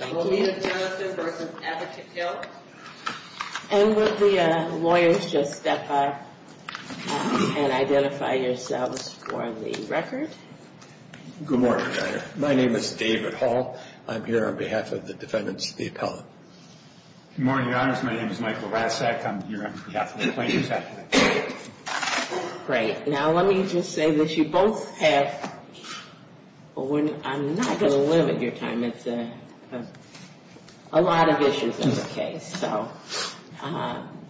And will the lawyers just step up and identify yourselves for the record? Good morning, Your Honor. My name is David Hall. I'm here on behalf of the defendants of the appellate. Good morning, Your Honor. My name is Michael Rasek. I'm here on behalf of the plaintiffs' appellate. Great. Now, let me just say this. You both have, I'm not going to limit your time. It's a lot of issues in this case. So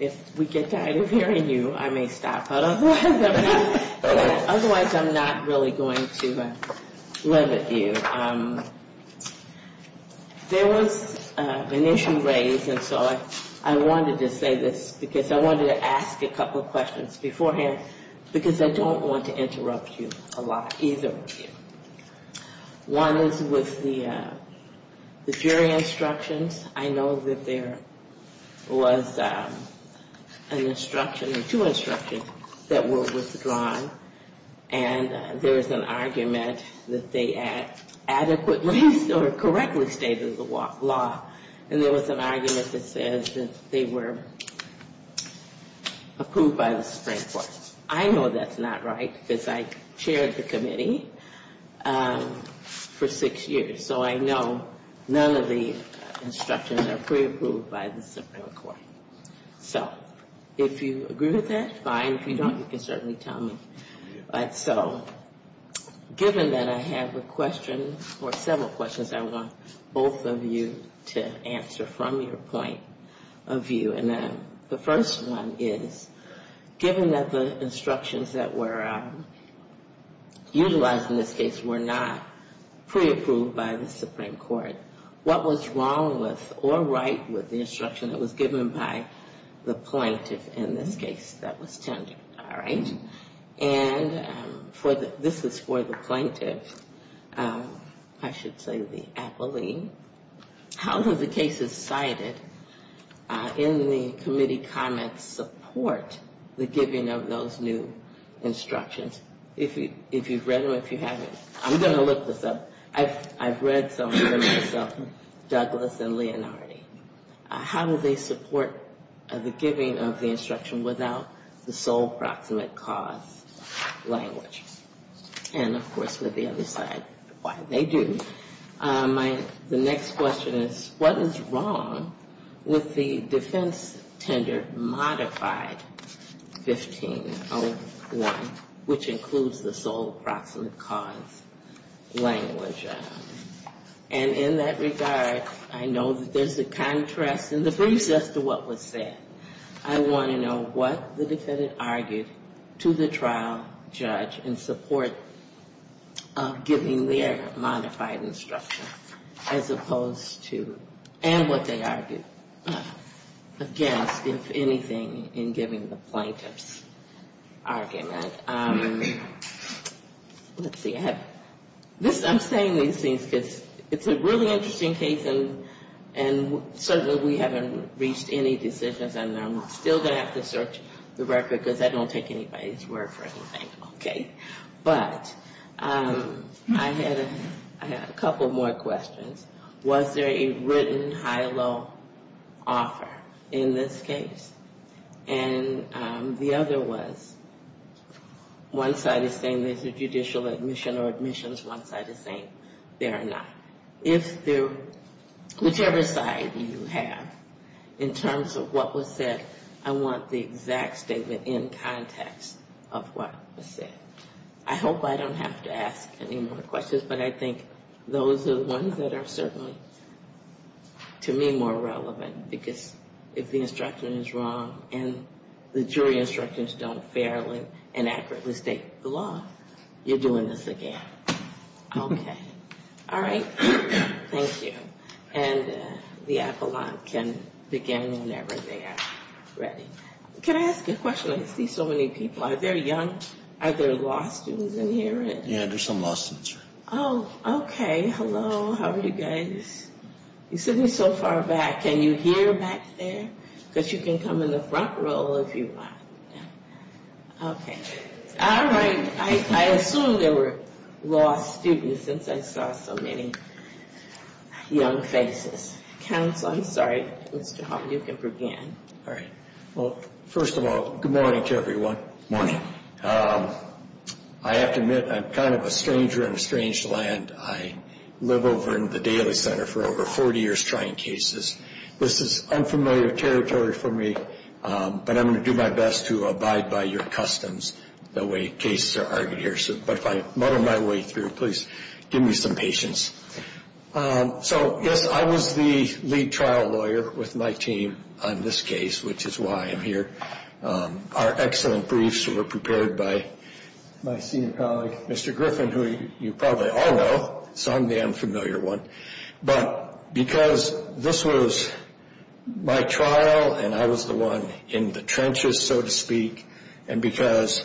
if we get tired of hearing you, I may stop. But otherwise, I'm not really going to limit you. There was an issue raised, and so I wanted to say this because I wanted to ask a couple of questions beforehand, because I don't want to interrupt you a lot either. One is with the jury instructions. I know that there was an instruction or two instructions that were withdrawn. And there was an argument that they adequately or correctly stated the law. And there was an argument that says that they were approved by the Supreme Court. I know that's not right because I chaired the committee for six years. So I know none of the instructions are pre-approved by the Supreme Court. So if you agree with that, fine. If you don't, you can certainly tell me. So given that I have a question or several questions, I want both of you to answer from your point of view. And the first one is, given that the instructions that were utilized in this case were not pre-approved by the Supreme Court, what was wrong with or right with the instruction that was given by the plaintiff in this case that was tendered? All right. And this is for the plaintiff. I should say the appellee. How do the cases cited in the committee comments support the giving of those new instructions? If you've read them, if you haven't, I'm going to look this up. I've read some of them myself, Douglas and Leonardi. How do they support the giving of the instruction without the sole proximate cause language? And, of course, with the other side, why, they do. The next question is, what is wrong with the defense tender modified 1501, which includes the sole proximate cause language? And in that regard, I know that there's a contrast in the briefs as to what was said. I want to know what the defendant argued to the trial judge in support of giving their modified instruction, as opposed to, and what they argued against, if anything, in giving the plaintiff's argument. Let's see. I'm saying these things because it's a really interesting case, and certainly we haven't reached any decisions on it. And I'm still going to have to search the record, because I don't take anybody's word for anything, okay? But I had a couple more questions. Was there a written high-low offer in this case? And the other was, one side is saying there's a judicial admission or admissions, one side is saying there are not. If there, whichever side you have, in terms of what was said, I want the exact statement in context of what was said. I hope I don't have to ask any more questions, but I think those are the ones that are certainly, to me, more relevant. Because if the instruction is wrong, and the jury instructions don't fairly and accurately state the law, you're doing this again. Okay. All right. Thank you. And the appellant can begin whenever they are ready. Can I ask a question? I see so many people. Are there young, are there law students in here? Yeah, there's some law students here. Oh, okay. Hello. How are you guys? You're sitting so far back. Can you hear back there? Because you can come in the front row if you want. Okay. All right. I assume there were law students, since I saw so many young faces. Counsel, I'm sorry. Mr. Hoffman, you can begin. All right. Well, first of all, good morning to everyone. I have to admit, I'm kind of a stranger in a strange land. I live over in the Daly Center for over 40 years trying cases. This is unfamiliar territory for me, but I'm going to do my best to abide by your customs the way cases are argued here. But if I muddle my way through, please give me some patience. So, yes, I was the lead trial lawyer with my team on this case, which is why I'm here. Our excellent briefs were prepared by my senior colleague, Mr. Griffin, who you probably all know, so I'm the unfamiliar one. But because this was my trial and I was the one in the trenches, so to speak, and because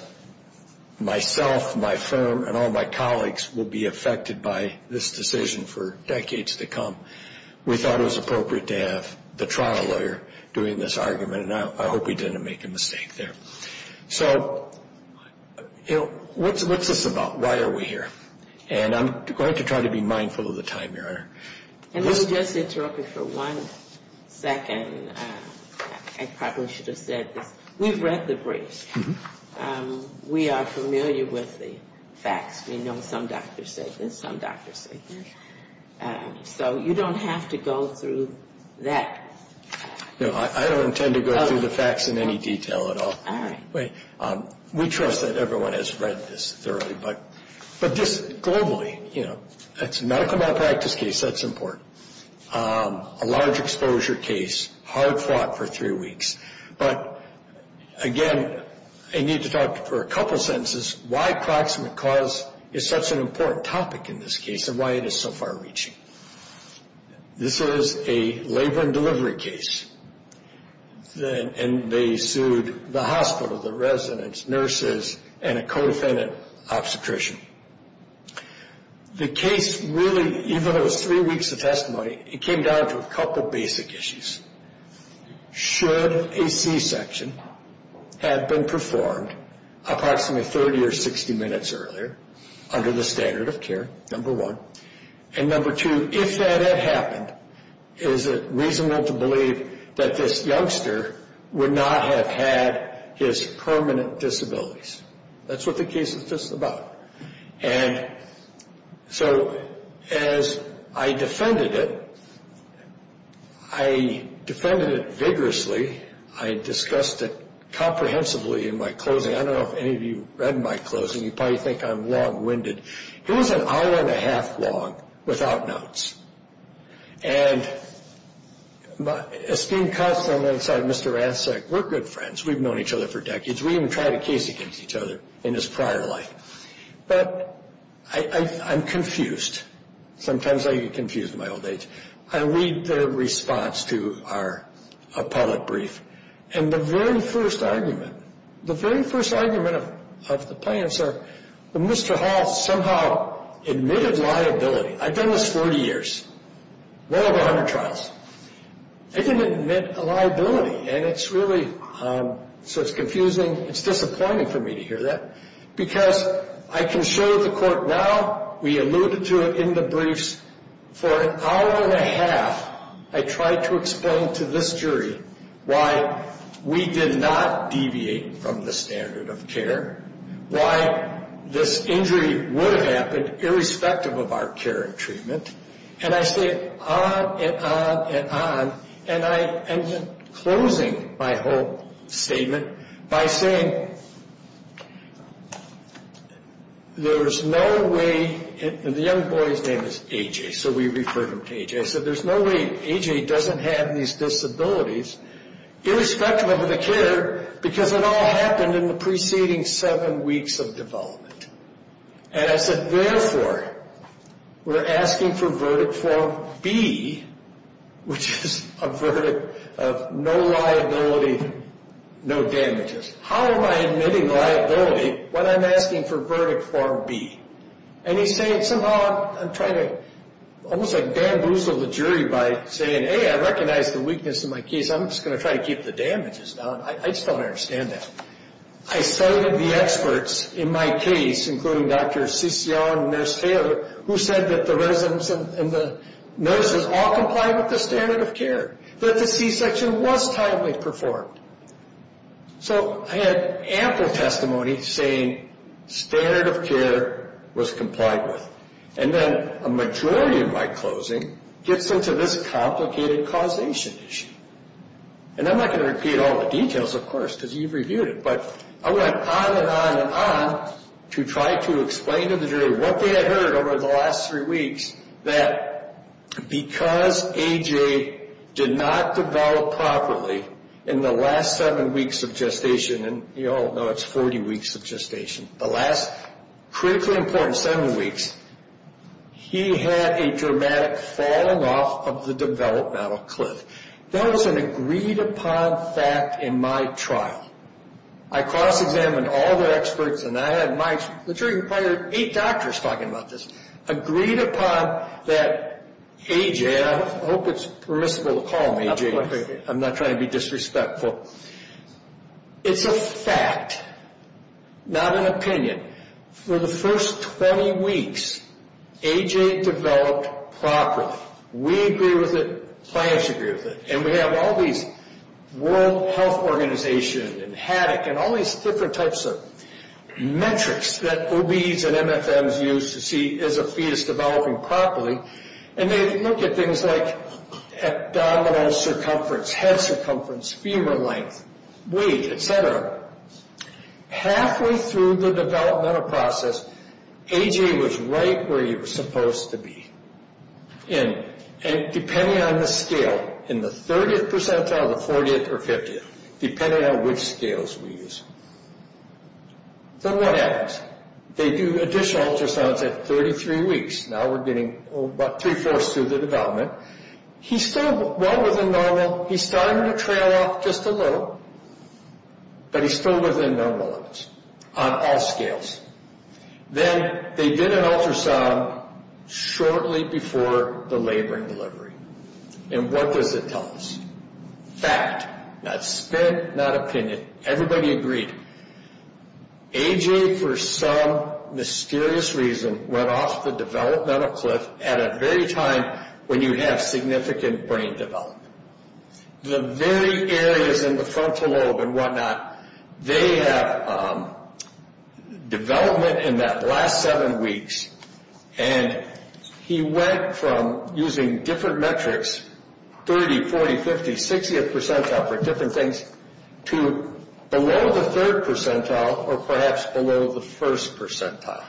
myself, my firm, and all my colleagues will be affected by this decision for decades to come, we thought it was appropriate to have the trial lawyer doing this argument, and I hope he didn't make a mistake there. So what's this about? Why are we here? And I'm going to try to be mindful of the time, Your Honor. And let me just interrupt you for one second. I probably should have said this. We've read the briefs. We are familiar with the facts. We know some doctors said this, some doctors said this. So you don't have to go through that. No, I don't intend to go through the facts in any detail at all. We trust that everyone has read this thoroughly. But this, globally, you know, it's a medical malpractice case. That's important. A large exposure case, hard fought for three weeks. But, again, I need to talk for a couple sentences why proximate cause is such an important topic in this case and why it is so far reaching. This is a labor and delivery case. And they sued the hospital, the residents, nurses, and a co-defendant obstetrician. The case really, even though it was three weeks of testimony, it came down to a couple basic issues. Should a C-section have been performed approximately 30 or 60 minutes earlier, under the standard of care, number one? And number two, if that had happened, is it reasonable to believe that this youngster would not have had his permanent disabilities? That's what the case is just about. And so, as I defended it, I defended it vigorously. I discussed it comprehensively in my closing. I don't know if any of you read my closing. You probably think I'm long-winded. It was an hour-and-a-half long without notes. And esteemed counsel on the other side of Mr. Rassick, we're good friends. We've known each other for decades. We even tried a case against each other in his prior life. But I'm confused. Sometimes I get confused in my old age. I read the response to our appellate brief, and the very first argument, the very first argument of the plaintiffs are, well, Mr. Hall somehow admitted liability. I've done this 40 years, well over 100 trials. I didn't admit a liability. And it's really, so it's confusing. It's disappointing for me to hear that. Because I can show the court now, we alluded to it in the briefs, for an hour-and-a-half, I tried to explain to this jury why we did not deviate from the standard of care, why this injury would have happened irrespective of our care and treatment. And I say it on and on and on, and I'm closing my whole statement by saying, there's no way, and the young boy's name is A.J., so we refer him to A.J. I said, there's no way A.J. doesn't have these disabilities irrespective of the care, because it all happened in the preceding seven weeks of development. And I said, therefore, we're asking for verdict form B, which is a verdict of no liability, no damages. How am I admitting liability when I'm asking for verdict form B? And he said, somehow I'm trying to almost like bamboozle the jury by saying, A, I recognize the weakness in my case. I'm just going to try to keep the damages down. I just don't understand that. I cited the experts in my case, including Dr. Siccio and Nurse Taylor, who said that the residents and the nurses all complied with the standard of care, that the C-section was timely performed. So I had ample testimony saying standard of care was complied with. And then a majority of my closing gets into this complicated causation issue. And I'm not going to repeat all the details, of course, because you've reviewed it. But I went on and on and on to try to explain to the jury what they had heard over the last three weeks, that because A.J. did not develop properly in the last seven weeks of gestation, and you all know it's 40 weeks of gestation, the last critically important seven weeks, he had a dramatic falling off of the developmental cliff. That was an agreed upon fact in my trial. I cross-examined all the experts, and I had my, the jury required eight doctors talking about this, agreed upon that A.J., and I hope it's permissible to call him A.J. I'm not trying to be disrespectful. It's a fact, not an opinion. For the first 20 weeks, A.J. developed properly. We agree with it, clients agree with it. And we have all these World Health Organization and HADOC and all these different types of metrics that OBs and MFMs use to see is a fetus developing properly. And they look at things like abdominal circumference, head circumference, femur length, weight, et cetera. Halfway through the developmental process, A.J. was right where he was supposed to be. And depending on the scale, in the 30th percentile, the 40th or 50th, depending on which scales we use. Then what happens? They do additional ultrasounds at 33 weeks. Now we're getting about three-fourths through the development. He's still well within normal. He's starting to trail off just a little, but he's still within normal limits on all scales. Then they did an ultrasound shortly before the laboring delivery. And what does it tell us? Fact, not spit, not opinion. Everybody agreed. A.J., for some mysterious reason, went off the developmental cliff at a very time when you have significant brain development. The very areas in the frontal lobe and whatnot, they have development in that last seven weeks. And he went from using different metrics, 30, 40, 50, 60th percentile for different things, to below the third percentile or perhaps below the first percentile,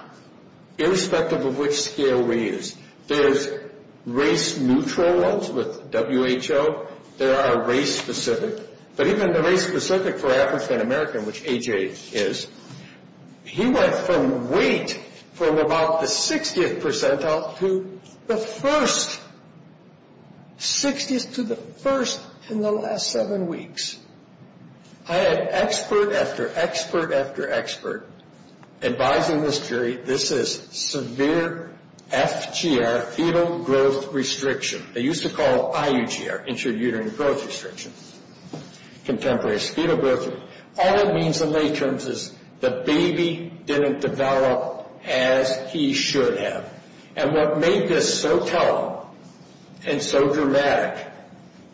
irrespective of which scale we use. There's race-neutral ones with WHO. There are race-specific. But even the race-specific for African American, which A.J. is, he went from weight from about the 60th percentile to the first, 60th to the first in the last seven weeks. I had expert after expert after expert advising this jury. This is severe FGR, fetal growth restriction. They used to call it IUGR, intrauterine growth restriction. Contemporary is fetal growth restriction. All it means in lay terms is the baby didn't develop as he should have. And what made this so telling and so dramatic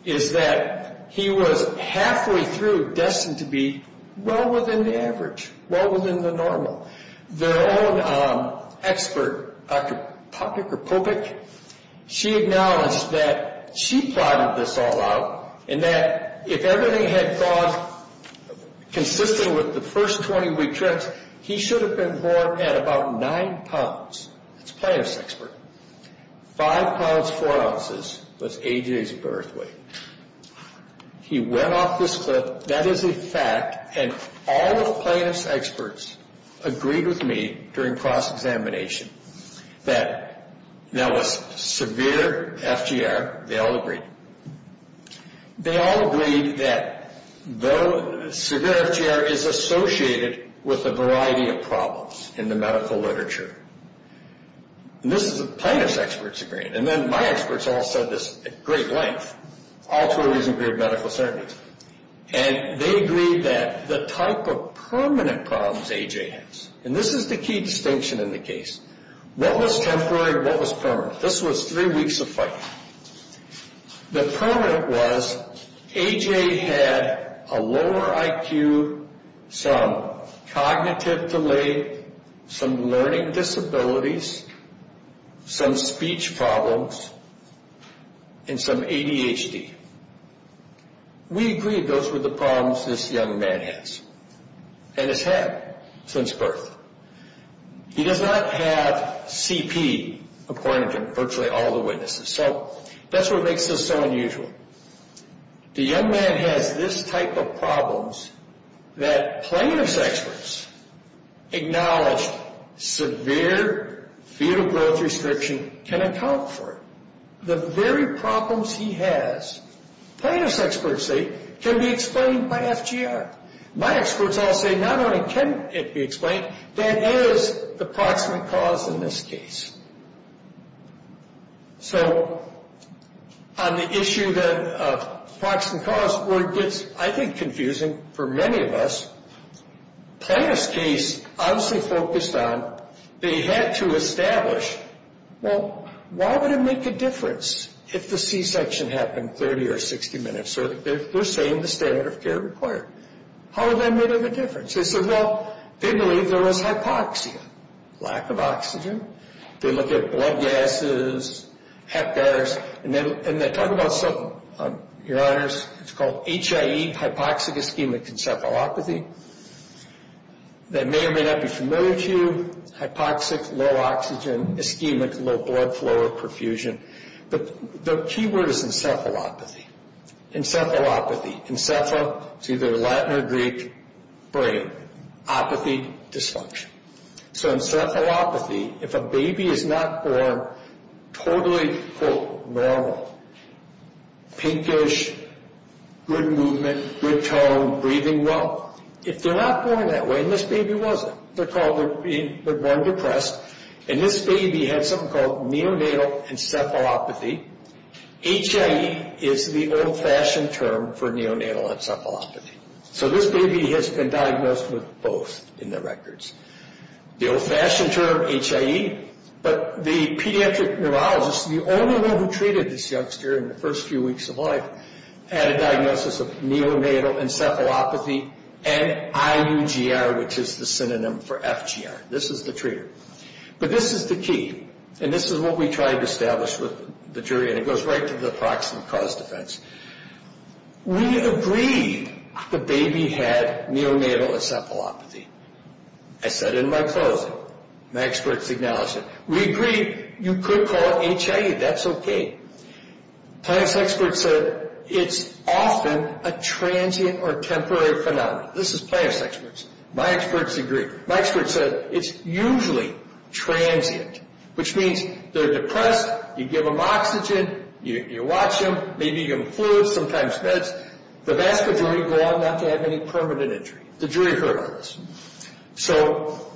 is that he was halfway through destined to be well within the average, well within the normal. Their own expert, Dr. Popik, she acknowledged that she plotted this all out, and that if everything had gone consistently with the first 20 week trips, he should have been born at about nine pounds. That's a plaintiff's expert. Five pounds, four ounces was A.J.'s birth weight. He went off this cliff. That is a fact, and all the plaintiff's experts agreed with me during cross-examination that that was severe FGR. They all agreed. They all agreed that severe FGR is associated with a variety of problems in the medical literature. And this is a plaintiff's expert's agreement. And then my experts all said this at great length, all to a reasonable degree of medical certainty. And they agreed that the type of permanent problems A.J. has, and this is the key distinction in the case, what was temporary and what was permanent? This was three weeks of fighting. The permanent was A.J. had a lower IQ, some cognitive delay, some learning disabilities, some speech problems, and some ADHD. We agreed those were the problems this young man has, and has had since birth. He does not have CP, according to virtually all the witnesses. So that's what makes this so unusual. The young man has this type of problems that plaintiff's experts acknowledge severe fetal growth restriction can account for. The very problems he has, plaintiff's experts say, can be explained by FGR. My experts all say not only can it be explained, that is the proximate cause in this case. So on the issue of proximate cause, where it gets, I think, confusing for many of us, plaintiff's case obviously focused on they had to establish, well, why would it make a difference if the C-section happened 30 or 60 minutes? They're saying the standard of care required. How would that make a difference? They said, well, they believe there was hypoxia, lack of oxygen. They look at blood gases, heptars, and they talk about something, your honors, it's called HIE, hypoxic ischemic encephalopathy. That may or may not be familiar to you. Hypoxic, low oxygen, ischemic, low blood flow or perfusion. But the key word is encephalopathy. Encephalopathy, encepha, it's either Latin or Greek, brain, apathy, dysfunction. So encephalopathy, if a baby is not born totally, quote, normal, pinkish, good movement, good tone, breathing well, if they're not born that way, and this baby wasn't, they're born depressed, and this baby had something called neonatal encephalopathy. HIE is the old-fashioned term for neonatal encephalopathy. So this baby has been diagnosed with both in the records. The old-fashioned term, HIE, but the pediatric neurologist, the only one who treated this youngster in the first few weeks of life, had a diagnosis of neonatal encephalopathy and IUGR, which is the synonym for FGR. This is the treater. But this is the key, and this is what we tried to establish with the jury, and it goes right to the approximate cause-defense. We agreed the baby had neonatal encephalopathy. I said in my closing, my experts acknowledged it. We agreed you could call it HIE, that's okay. Plaintiff's experts said it's often a transient or temporary phenomenon. This is plaintiff's experts. My experts agreed. My experts said it's usually transient, which means they're depressed, you give them oxygen, you watch them, maybe give them fluids, sometimes meds. The vast majority go on not to have any permanent injury. The jury heard all this. So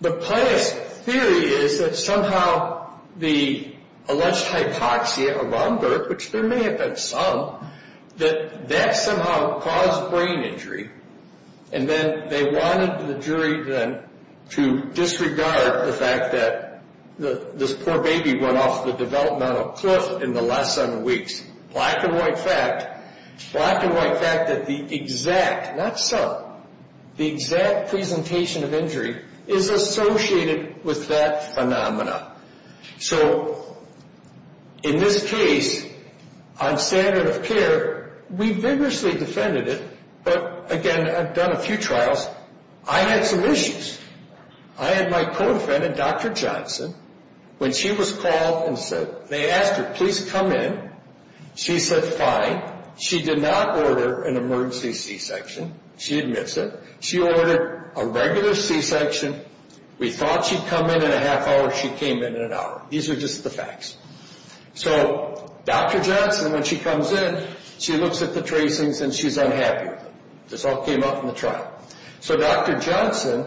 the plaintiff's theory is that somehow the alleged hypoxia around birth, which there may have been some, that that somehow caused brain injury, and then they wanted the jury then to disregard the fact that this poor baby went off the developmental cliff in the last seven weeks. Black and white fact, black and white fact that the exact, not some, the exact presentation of injury is associated with that phenomenon. So in this case, on standard of care, we vigorously defended it, but again, I've done a few trials. I had some issues. I had my co-defendant, Dr. Johnson, when she was called and said, they asked her, please come in. She said fine. She did not order an emergency C-section. She admits it. She ordered a regular C-section. We thought she'd come in in a half hour. She came in in an hour. These are just the facts. So Dr. Johnson, when she comes in, she looks at the tracings and she's unhappy with them. This all came up in the trial. So Dr. Johnson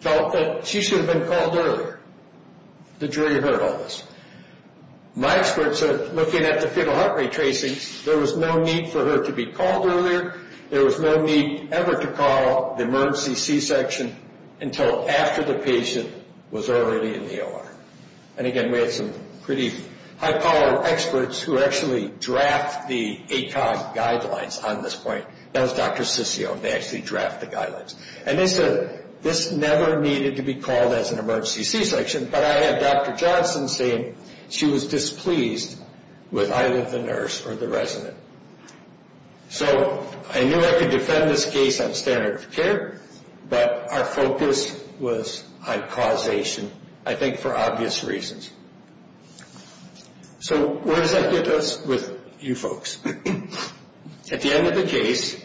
felt that she should have been called earlier. The jury heard all this. My experts are looking at the fetal heart rate tracings. There was no need for her to be called earlier. There was no need ever to call the emergency C-section until after the patient was already in the OR. And, again, we had some pretty high-powered experts who actually draft the ACOG guidelines on this point. That was Dr. Ciccio. They actually draft the guidelines. And this never needed to be called as an emergency C-section, but I had Dr. Johnson saying she was displeased with either the nurse or the resident. So I knew I could defend this case on standard of care, but our focus was on causation. I think for obvious reasons. So where does that get us with you folks? At the end of the case,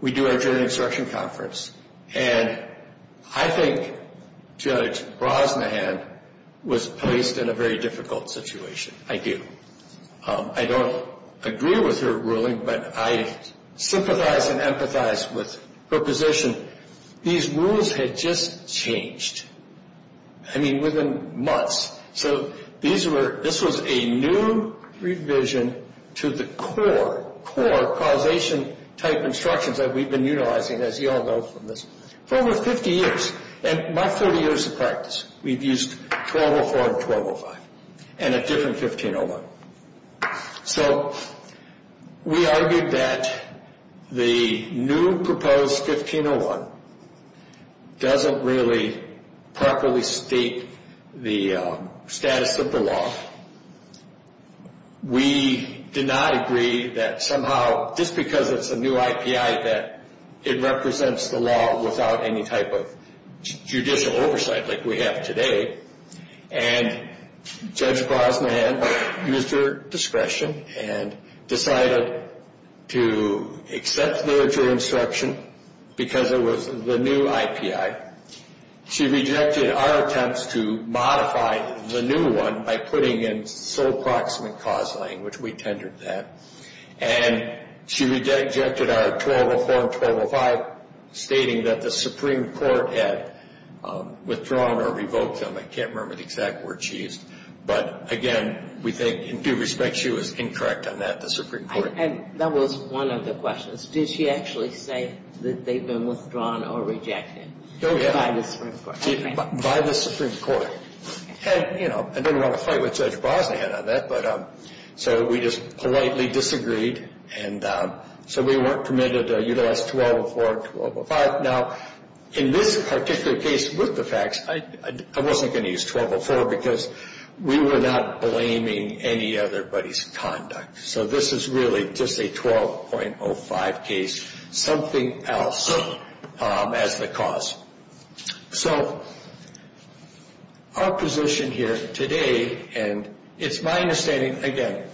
we do our jury instruction conference, and I think Judge Brosnahan was placed in a very difficult situation. I do. I don't agree with her ruling, but I sympathize and empathize with her position. These rules had just changed. I mean, within months. So this was a new revision to the core causation type instructions that we've been utilizing, as you all know from this, for over 50 years. In my 30 years of practice, we've used 1204 and 1205 and a different 1501. So we argued that the new proposed 1501 doesn't really properly state the status of the law. We did not agree that somehow, just because it's a new IPI, that it represents the law without any type of judicial oversight like we have today. And Judge Brosnahan used her discretion and decided to accept the jury instruction because it was the new IPI. She rejected our attempts to modify the new one by putting in sole proximate cause language. We tendered that. And she rejected our 1204 and 1205, stating that the Supreme Court had withdrawn or revoked them. I can't remember the exact word she used. But, again, we think, in due respect, she was incorrect on that, the Supreme Court. And that was one of the questions. Did she actually say that they'd been withdrawn or rejected by the Supreme Court? By the Supreme Court. And, you know, I don't want to fight with Judge Brosnahan on that. So we just politely disagreed. And so we weren't permitted to utilize 1204 and 1205. Now, in this particular case with the facts, I wasn't going to use 1204 because we were not blaming any otherbody's conduct. So this is really just a 12.05 case, something else as the cause. So our position here today, and it's my understanding, again,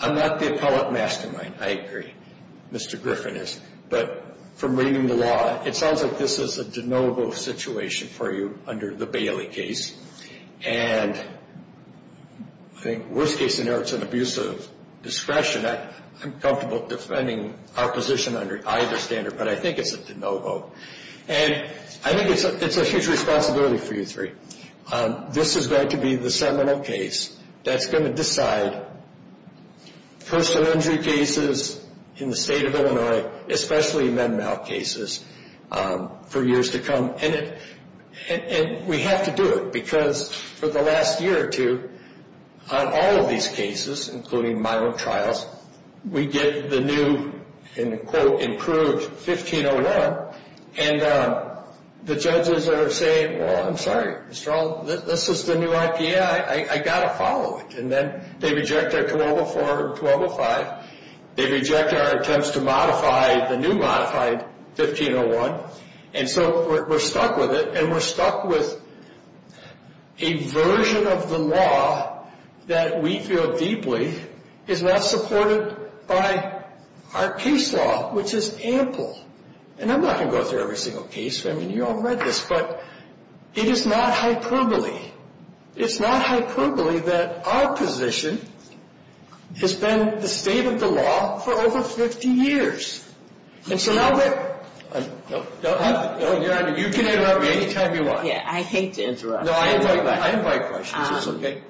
I'm not the appellate mastermind. I agree. Mr. Griffin is. But from reading the law, it sounds like this is a de novo situation for you under the Bailey case. And I think worst case scenario, it's an abuse of discretion. I'm comfortable defending our position under either standard. But I think it's a de novo. And I think it's a huge responsibility for you three. This is going to be the seminal case that's going to decide personal injury cases in the state of Illinois, especially mental health cases, for years to come. And we have to do it because for the last year or two, on all of these cases, including my own trials, we get the new and, quote, improved 1501. And the judges are saying, well, I'm sorry, Mr. Ault, this is the new IPA. I got to follow it. And then they reject our 1204 and 1205. They reject our attempts to modify the new modified 1501. And so we're stuck with it. And we're stuck with a version of the law that we feel deeply is not supported by our case law, which is ample. And I'm not going to go through every single case. I mean, you all read this. But it is not hyperbole. It's not hyperbole that our position has been the state of the law for over 50 years. And so now that you can interrupt me any time you want. Yeah, I hate to interrupt. No, I invite questions. It's okay.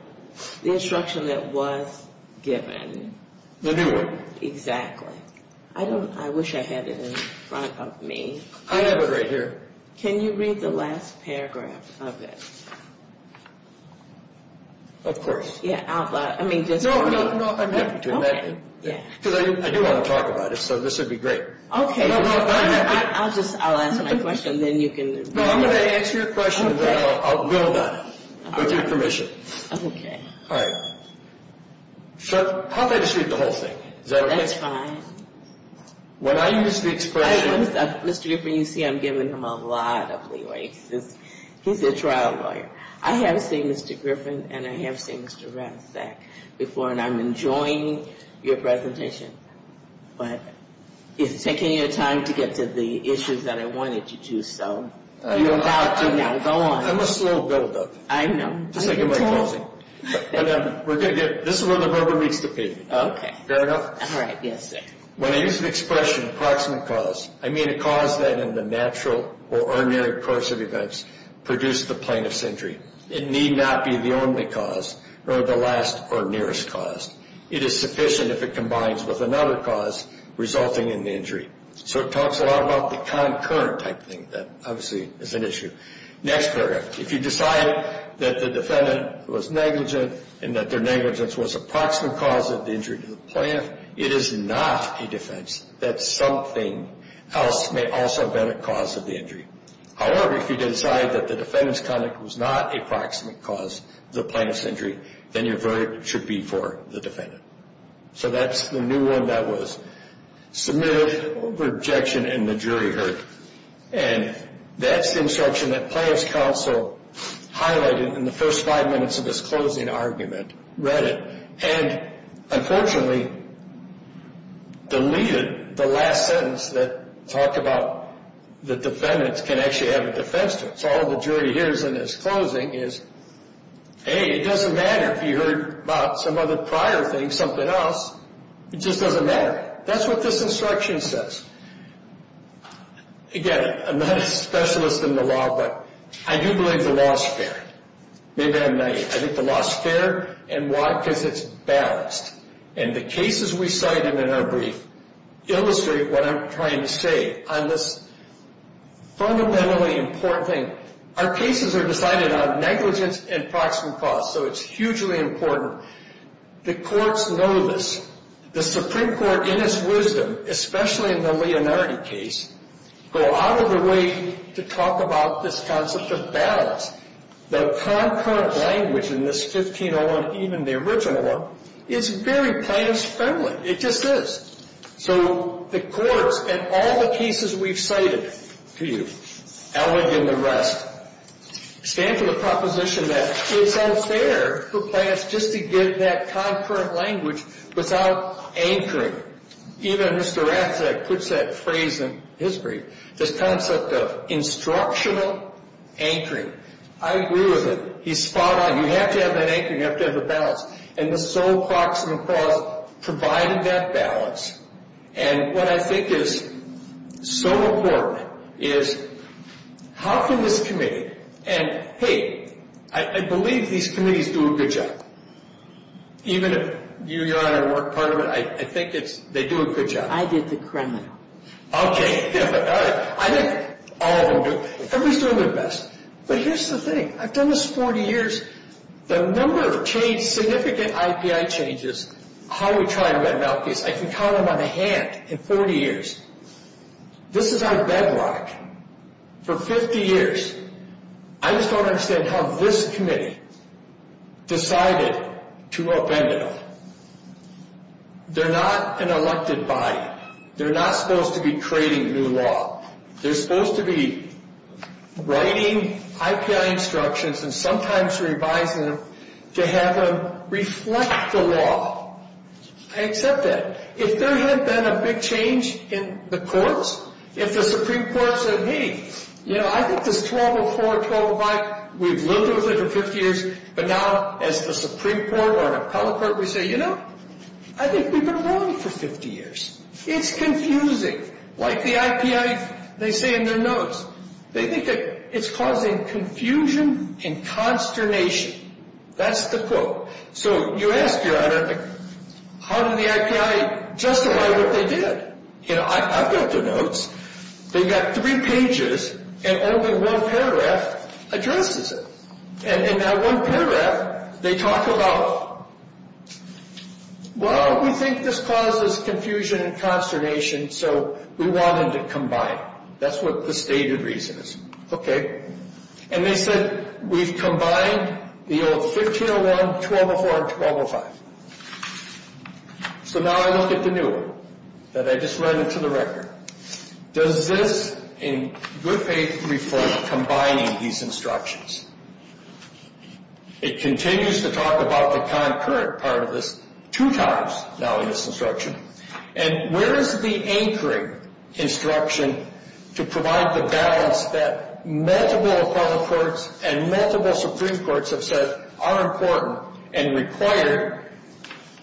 The instruction that was given. The new one. Exactly. I wish I had it in front of me. I have it right here. Can you read the last paragraph of it? Of course. Yeah, I mean, just for me. No, I'm happy to. Okay. Because I do want to talk about it. So this would be great. I'll ask my question. Then you can read it. No, I'm going to answer your question. Then I'll go about it. With your permission. Okay. All right. So how did I distribute the whole thing? Is that okay? That's fine. When I use the expression. Mr. Griffin, you see I'm giving him a lot of leeway. He's a trial lawyer. I have seen Mr. Griffin. And I have seen Mr. Ratzak before. And I'm enjoying your presentation. But it's taking your time to get to the issues that I wanted you to. So you're allowed to now go on. I'm a slow builder. I know. Just like in my closing. This is where the rubber meets the pavement. Okay. Fair enough? All right. Yes, sir. When I use the expression approximate cause, I mean a cause that in the natural or ordinary course of events produced the plaintiff's injury. It need not be the only cause or the last or nearest cause. It is sufficient if it combines with another cause resulting in the injury. So it talks a lot about the concurrent type thing. That obviously is an issue. Next paragraph. If you decide that the defendant was negligent and that their negligence was approximate cause of the injury to the plaintiff, it is not a defense that something else may also have been a cause of the injury. However, if you decide that the defendant's conduct was not a proximate cause of the plaintiff's injury, then your verdict should be for the defendant. So that's the new one that was submitted over objection and the jury heard. And that's the instruction that plaintiff's counsel highlighted in the first five minutes of this closing argument, and unfortunately deleted the last sentence that talked about the defendants can actually have a defense to it. So all the jury hears in this closing is, hey, it doesn't matter if you heard about some other prior thing, something else. It just doesn't matter. That's what this instruction says. Again, I'm not a specialist in the law, but I do believe the law is fair. Maybe I'm naive. I think the law is fair. And why? Because it's balanced. And the cases we cited in our brief illustrate what I'm trying to say on this fundamentally important thing. Our cases are decided on negligence and proximate cause, so it's hugely important. The courts know this. The Supreme Court, in its wisdom, especially in the Leonardi case, go out of their way to talk about this concept of balance. The concurrent language in this 1501, even the original one, is very plaintiff's friendly. It just is. So the courts in all the cases we've cited to you, Ellington and the rest, stand to the proposition that it's unfair for plaintiffs just to give that concurrent language without anchoring. Even Mr. Ratzak puts that phrase in his brief, this concept of instructional anchoring. I agree with it. He's spot on. You have to have that anchoring. You have to have the balance. And the sole proximate cause provided that balance. And what I think is so important is how can this committee, and, hey, I believe these committees do a good job. Even if you, Your Honor, weren't part of it, I think they do a good job. I did the criminal. Okay. All right. I think all of them do. Everybody's doing their best. But here's the thing. I've done this 40 years. The number of significant IPI changes, how we try and red-map these, I can count them on a hand in 40 years. This is our bedrock for 50 years. I just don't understand how this committee decided to upend it all. They're not an elected body. They're not supposed to be creating new law. They're supposed to be writing IPI instructions and sometimes revising them to have them reflect the law. I accept that. If there had been a big change in the courts, if the Supreme Court said, hey, you know, I think this 1204 and 1205, we've lived with it for 50 years. But now, as the Supreme Court or an appellate court, we say, you know, I think we've been wrong for 50 years. It's confusing. Like the IPI, they say in their notes, they think that it's causing confusion and consternation. That's the quote. So you ask your honor, how did the IPI justify what they did? You know, I've read their notes. They've got three pages and only one paragraph addresses it. And in that one paragraph, they talk about, well, we think this causes confusion and consternation, so we wanted to combine. That's what the stated reason is. Okay. And they said, we've combined the old 1501, 1204, and 1205. So now I look at the new one that I just read into the record. Does this, in good faith, reflect combining these instructions? It continues to talk about the concurrent part of this two times now in this instruction. And where is the anchoring instruction to provide the balance that multiple appellate courts and multiple Supreme Courts have said are important and required?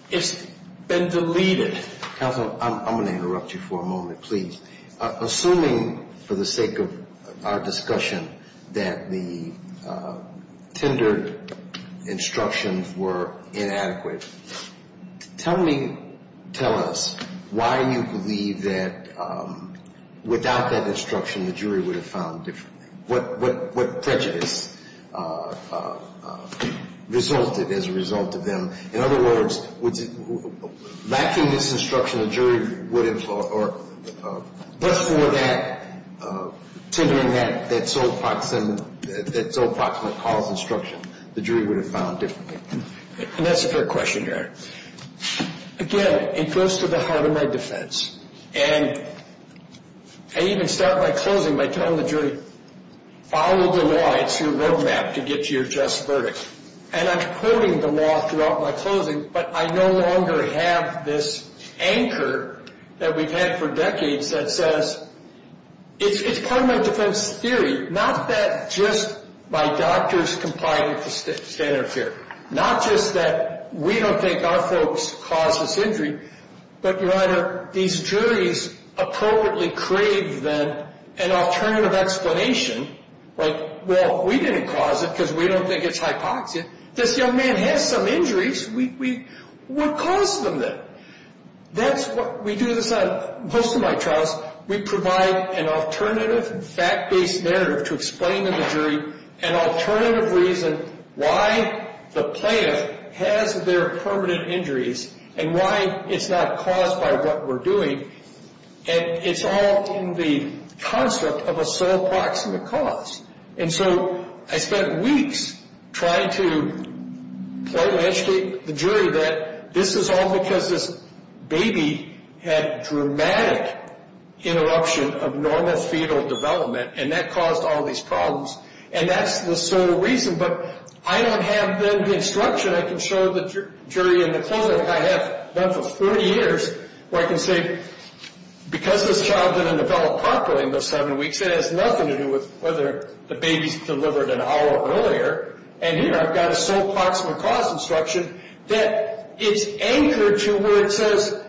It's been deleted. Counsel, I'm going to interrupt you for a moment, please. Assuming, for the sake of our discussion, that the tendered instructions were inadequate, tell me, tell us, why you believe that without that instruction, the jury would have found differently, what prejudice resulted as a result of them. In other words, lacking this instruction, the jury would have, or just for that, tendering that so proximate cause instruction, the jury would have found differently. And that's a fair question, Your Honor. Again, it goes to the heart of my defense. And I even start by closing by telling the jury, follow the law. It's your road map to get to your just verdict. And I'm quoting the law throughout my closing, but I no longer have this anchor that we've had for decades that says it's part of my defense theory, not that just my doctors complied with the standard of care, not just that we don't think our folks caused this injury, but, Your Honor, these juries appropriately crave an alternative explanation, like, well, we didn't cause it because we don't think it's hypoxia. This young man has some injuries. We caused them that. That's what we do this on most of my trials. We provide an alternative fact-based narrative to explain to the jury an alternative reason why the plaintiff has their permanent injuries and why it's not caused by what we're doing. And it's all in the construct of a sole proximate cause. And so I spent weeks trying to point and educate the jury that this is all because this baby had dramatic interruption of normal fetal development, and that caused all these problems. And that's the sole reason. But I don't have, then, the instruction. I can show the jury in the clinic I have done for 30 years where I can say, because this child didn't develop properly in those seven weeks, it has nothing to do with whether the baby's delivered an hour earlier. And here I've got a sole proximate cause instruction that is anchored to where it says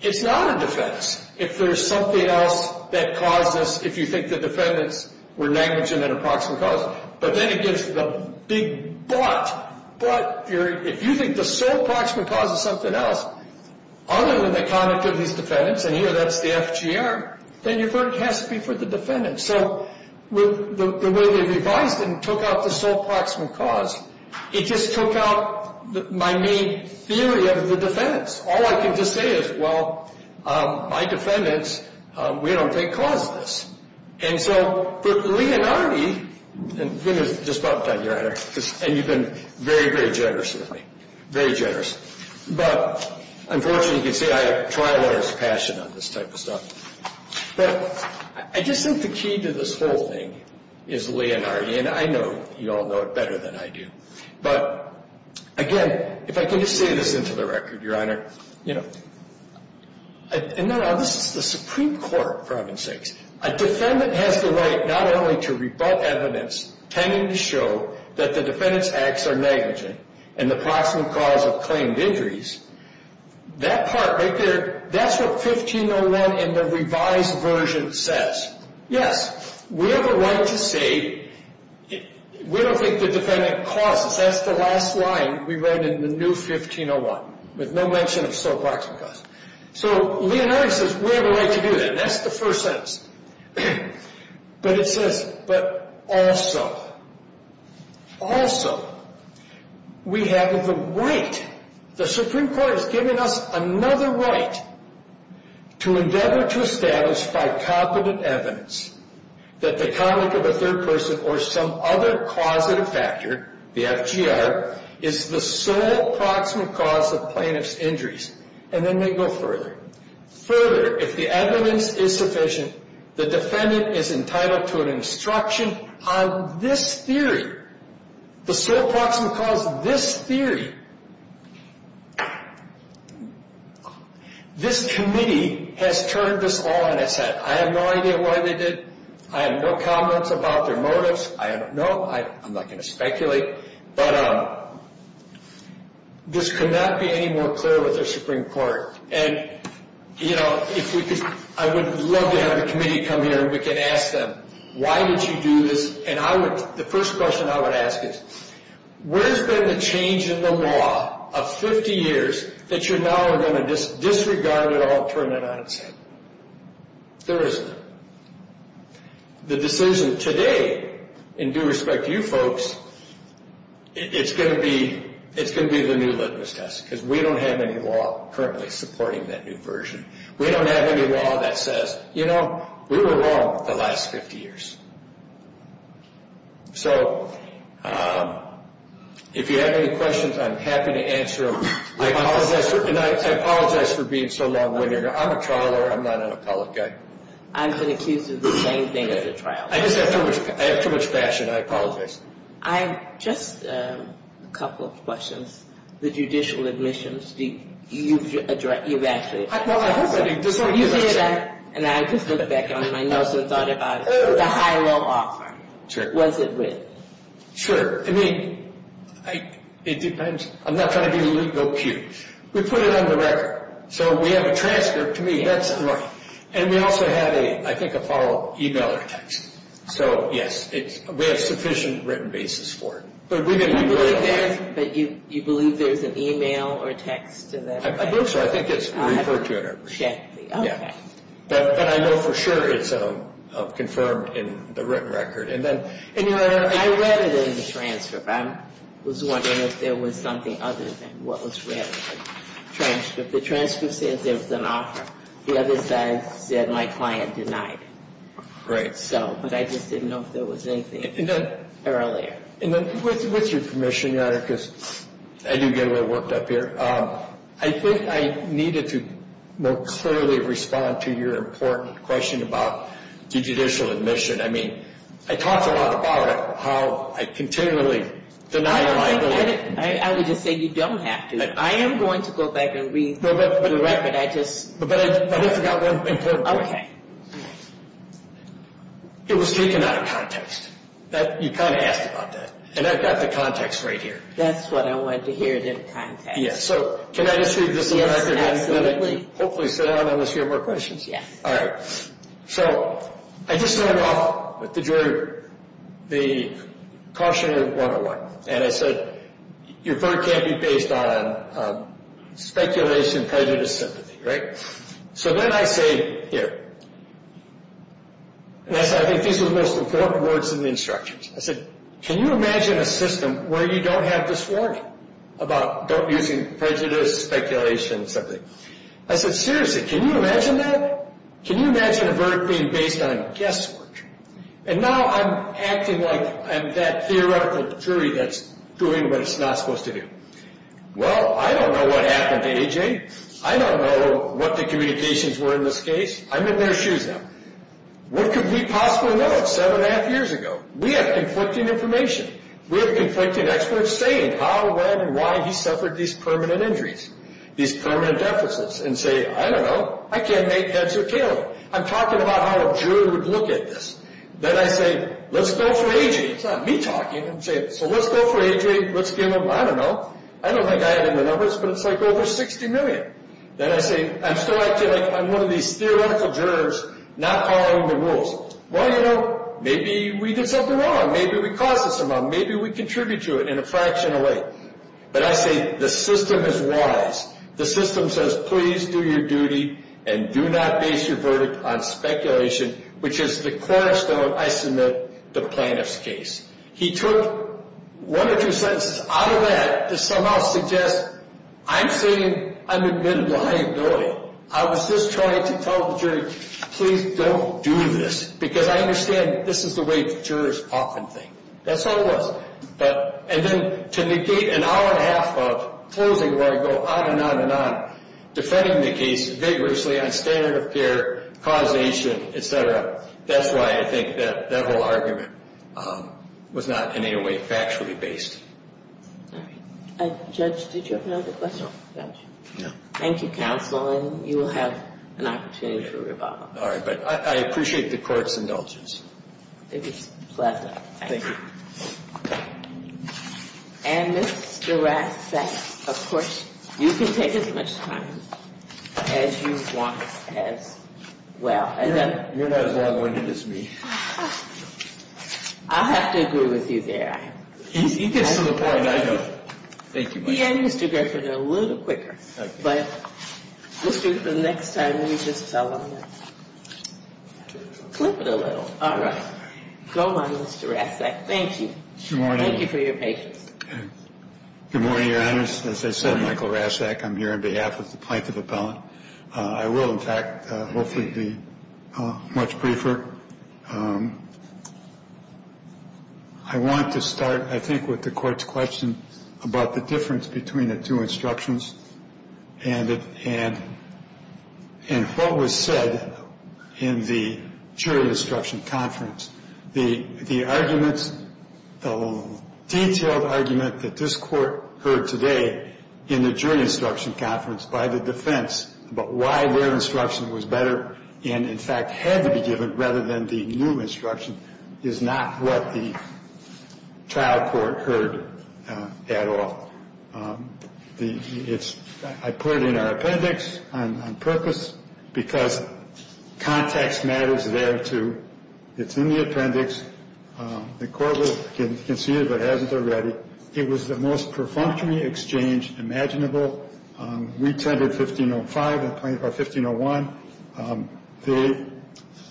it's not a defense if there's something else that caused this, if you think the defendants were negligent in a proximate cause. But then it gives the big but. But if you think the sole proximate cause is something else, other than the conduct of these defendants, and here that's the FGR, then your verdict has to be for the defendants. So the way they revised it and took out the sole proximate cause, it just took out my main theory of the defendants. All I can just say is, well, my defendants, we don't think caused this. And so for Leonardi, and he was just bumped on, Your Honor, and you've been very, very generous with me, very generous. But unfortunately, you can see I try a lot of passion on this type of stuff. But I just think the key to this whole thing is Leonardi, and I know you all know it better than I do. But, again, if I can just say this into the record, Your Honor, you know, and this is the Supreme Court, for heaven's sakes. A defendant has the right not only to rebut evidence tending to show that the defendant's acts are negligent and the proximate cause of claimed injuries. That part right there, that's what 1501 in the revised version says. Yes, we have a right to say we don't think the defendant caused this. That's the last line we read in the new 1501, with no mention of sole proximate cause. So Leonardi says we have a right to do that, and that's the first sentence. But it says, but also, also, we have the right. The Supreme Court has given us another right to endeavor to establish by competent evidence that the conduct of a third person or some other causative factor, the FGR, is the sole proximate cause of plaintiff's injuries. And then they go further. Further, if the evidence is sufficient, the defendant is entitled to an instruction on this theory. The sole proximate cause of this theory. This committee has turned this all on its head. I have no idea why they did. I have no comments about their motives. I don't know. I'm not going to speculate. But this could not be any more clear with the Supreme Court. And, you know, I would love to have the committee come here, and we can ask them, why did you do this? And the first question I would ask is, where's been the change in the law of 50 years that you're now going to disregard it all, turn it on its head? There isn't. The decision today, in due respect to you folks, it's going to be the new litmus test, because we don't have any law currently supporting that new version. We don't have any law that says, you know, we were wrong the last 50 years. So if you have any questions, I'm happy to answer them. I apologize for being so long-winded. I'm a trial lawyer. I'm not an appellate guy. I've been accused of the same thing as a trial lawyer. I have too much passion. I apologize. I have just a couple of questions. The judicial admissions, you've actually addressed that. Well, I hope I did. You did, and I just looked back on my notes and thought about it. The high-low offer, what's it with? Sure. I mean, it depends. I'm not trying to be a legal pew. We put it on the record. So we have a transcript. To me, that's right. And we also have, I think, a follow-up e-mail or text. So, yes, we have sufficient written basis for it. But you believe there's an e-mail or text to that? I believe so. I think it's referred to it. Exactly. Okay. But I know for sure it's confirmed in the written record. I read it in the transcript. I was wondering if there was something other than what was read in the transcript. The transcript says there was an offer. The other side said my client denied it. Right. But I just didn't know if there was anything earlier. And with your permission, Your Honor, because I do get a little worked up here, I think I needed to more clearly respond to your important question about the judicial admission. I mean, I talked a lot about how I continually denied it. I would just say you don't have to. I am going to go back and read the record. But I forgot one important point. Okay. It was taken out of context. You kind of asked about that. And I've got the context right here. That's what I wanted to hear, the context. Yes. So can I just read this record? Yes, absolutely. Hopefully sit down and let's hear more questions. Yes. All right. So I just started off with the cautionary 101. And I said your verdict can't be based on speculation, prejudice, sympathy. Right. So then I say here. And I said I think these are the most important words in the instructions. I said can you imagine a system where you don't have this warning about using prejudice, speculation, sympathy. I said seriously, can you imagine that? Can you imagine a verdict being based on guesswork? And now I'm acting like I'm that theoretical jury that's doing what it's not supposed to do. Well, I don't know what happened to AJ. I don't know what the communications were in this case. I'm in their shoes now. What could we possibly know seven and a half years ago? We have conflicting information. We have conflicting experts saying how, when, and why he suffered these permanent injuries, these permanent deficits. And say I don't know. I can't make heads or tails. I'm talking about how a juror would look at this. Then I say let's go for AJ. It's not me talking. I'm saying so let's go for AJ. Let's give him, I don't know. I don't think I had in the numbers, but it's like over 60 million. Then I say I'm still acting like I'm one of these theoretical jurors not following the rules. Well, you know, maybe we did something wrong. Maybe we caused this amount. Maybe we contribute to it in a fraction of way. But I say the system is wise. The system says please do your duty and do not base your verdict on speculation, which is the cornerstone, I submit, the plaintiff's case. He took one or two sentences out of that to somehow suggest I'm saying I'm admitting liability. I was just trying to tell the jury please don't do this because I understand this is the way jurors often think. That's all it was. And then to negate an hour and a half of closing where I go on and on and on defending the case vigorously on standard of care, causation, et cetera, that's why I think that whole argument was not in any way factually based. All right. Judge, did you have another question? Thank you, counsel, and you will have an opportunity for rebuttal. All right, but I appreciate the court's indulgence. It was a pleasure. Thank you. And Mr. Rasek, of course, you can take as much time as you want as well. You're not as long-winded as me. I have to agree with you there. He gets to the point. I know. Thank you. He and Mr. Griffin are a little quicker. Okay. But let's do it for the next time we just fell on it. Okay. Flip it a little. All right. Go on, Mr. Rasek. Thank you. Good morning. Thank you for your patience. Good morning, Your Honors. As I said, Michael Rasek, I'm here on behalf of the plaintiff appellant. I will, in fact, hopefully be much briefer. I want to start, I think, with the court's question about the difference between the two instructions and what was said in the jury instruction conference. The arguments, the detailed argument that this court heard today in the jury instruction conference by the defense about why their instruction was better and, in fact, had to be given rather than the new instruction, is not what the trial court heard at all. I put it in our appendix on purpose because context matters there, too. It's in the appendix. The court can see it if it hasn't already. It was the most perfunctory exchange imaginable. We tendered 1505 or 1501.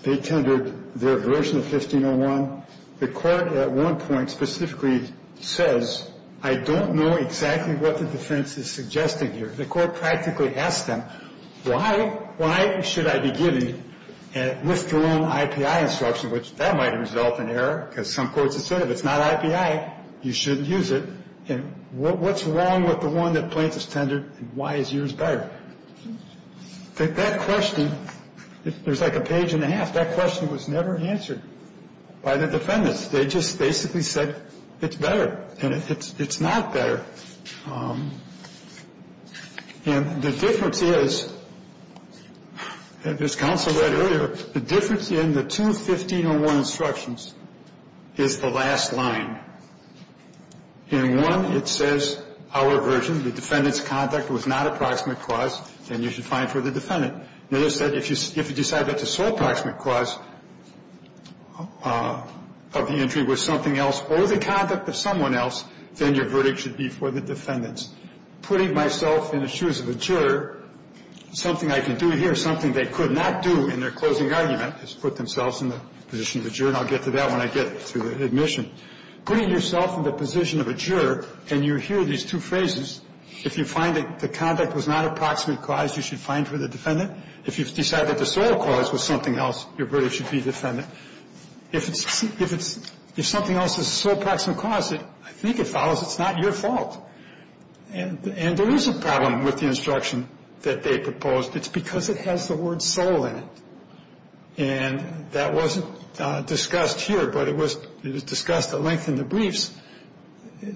They tendered their version of 1501. The court at one point specifically says, I don't know exactly what the defense is suggesting here. The court practically asked them, why should I be giving a withdrawn IPI instruction, which that might result in error because some courts have said if it's not IPI, you shouldn't use it. And what's wrong with the one that plaintiff's tendered and why is yours better? That question, there's like a page and a half. That question was never answered by the defendants. They just basically said it's better. And it's not better. And the difference is, as counsel read earlier, the difference in the two 1501 instructions is the last line. In one, it says our version, the defendant's conduct was not approximate cause, and you should find for the defendant. In another, it said if you decide that the sole approximate cause of the injury was something else or the conduct of someone else, then your verdict should be for the defendants. Putting myself in the shoes of a juror, something I can do here, something they could not do in their closing argument is put themselves in the position of a juror, and I'll get to that when I get to the admission. Putting yourself in the position of a juror, and you hear these two phrases, if you find that the conduct was not approximate cause, you should find for the defendant. If you decide that the sole cause was something else, your verdict should be defendant. If it's the sole approximate cause, I think it follows it's not your fault. And there is a problem with the instruction that they proposed. It's because it has the word sole in it. And that wasn't discussed here, but it was discussed at length in the briefs.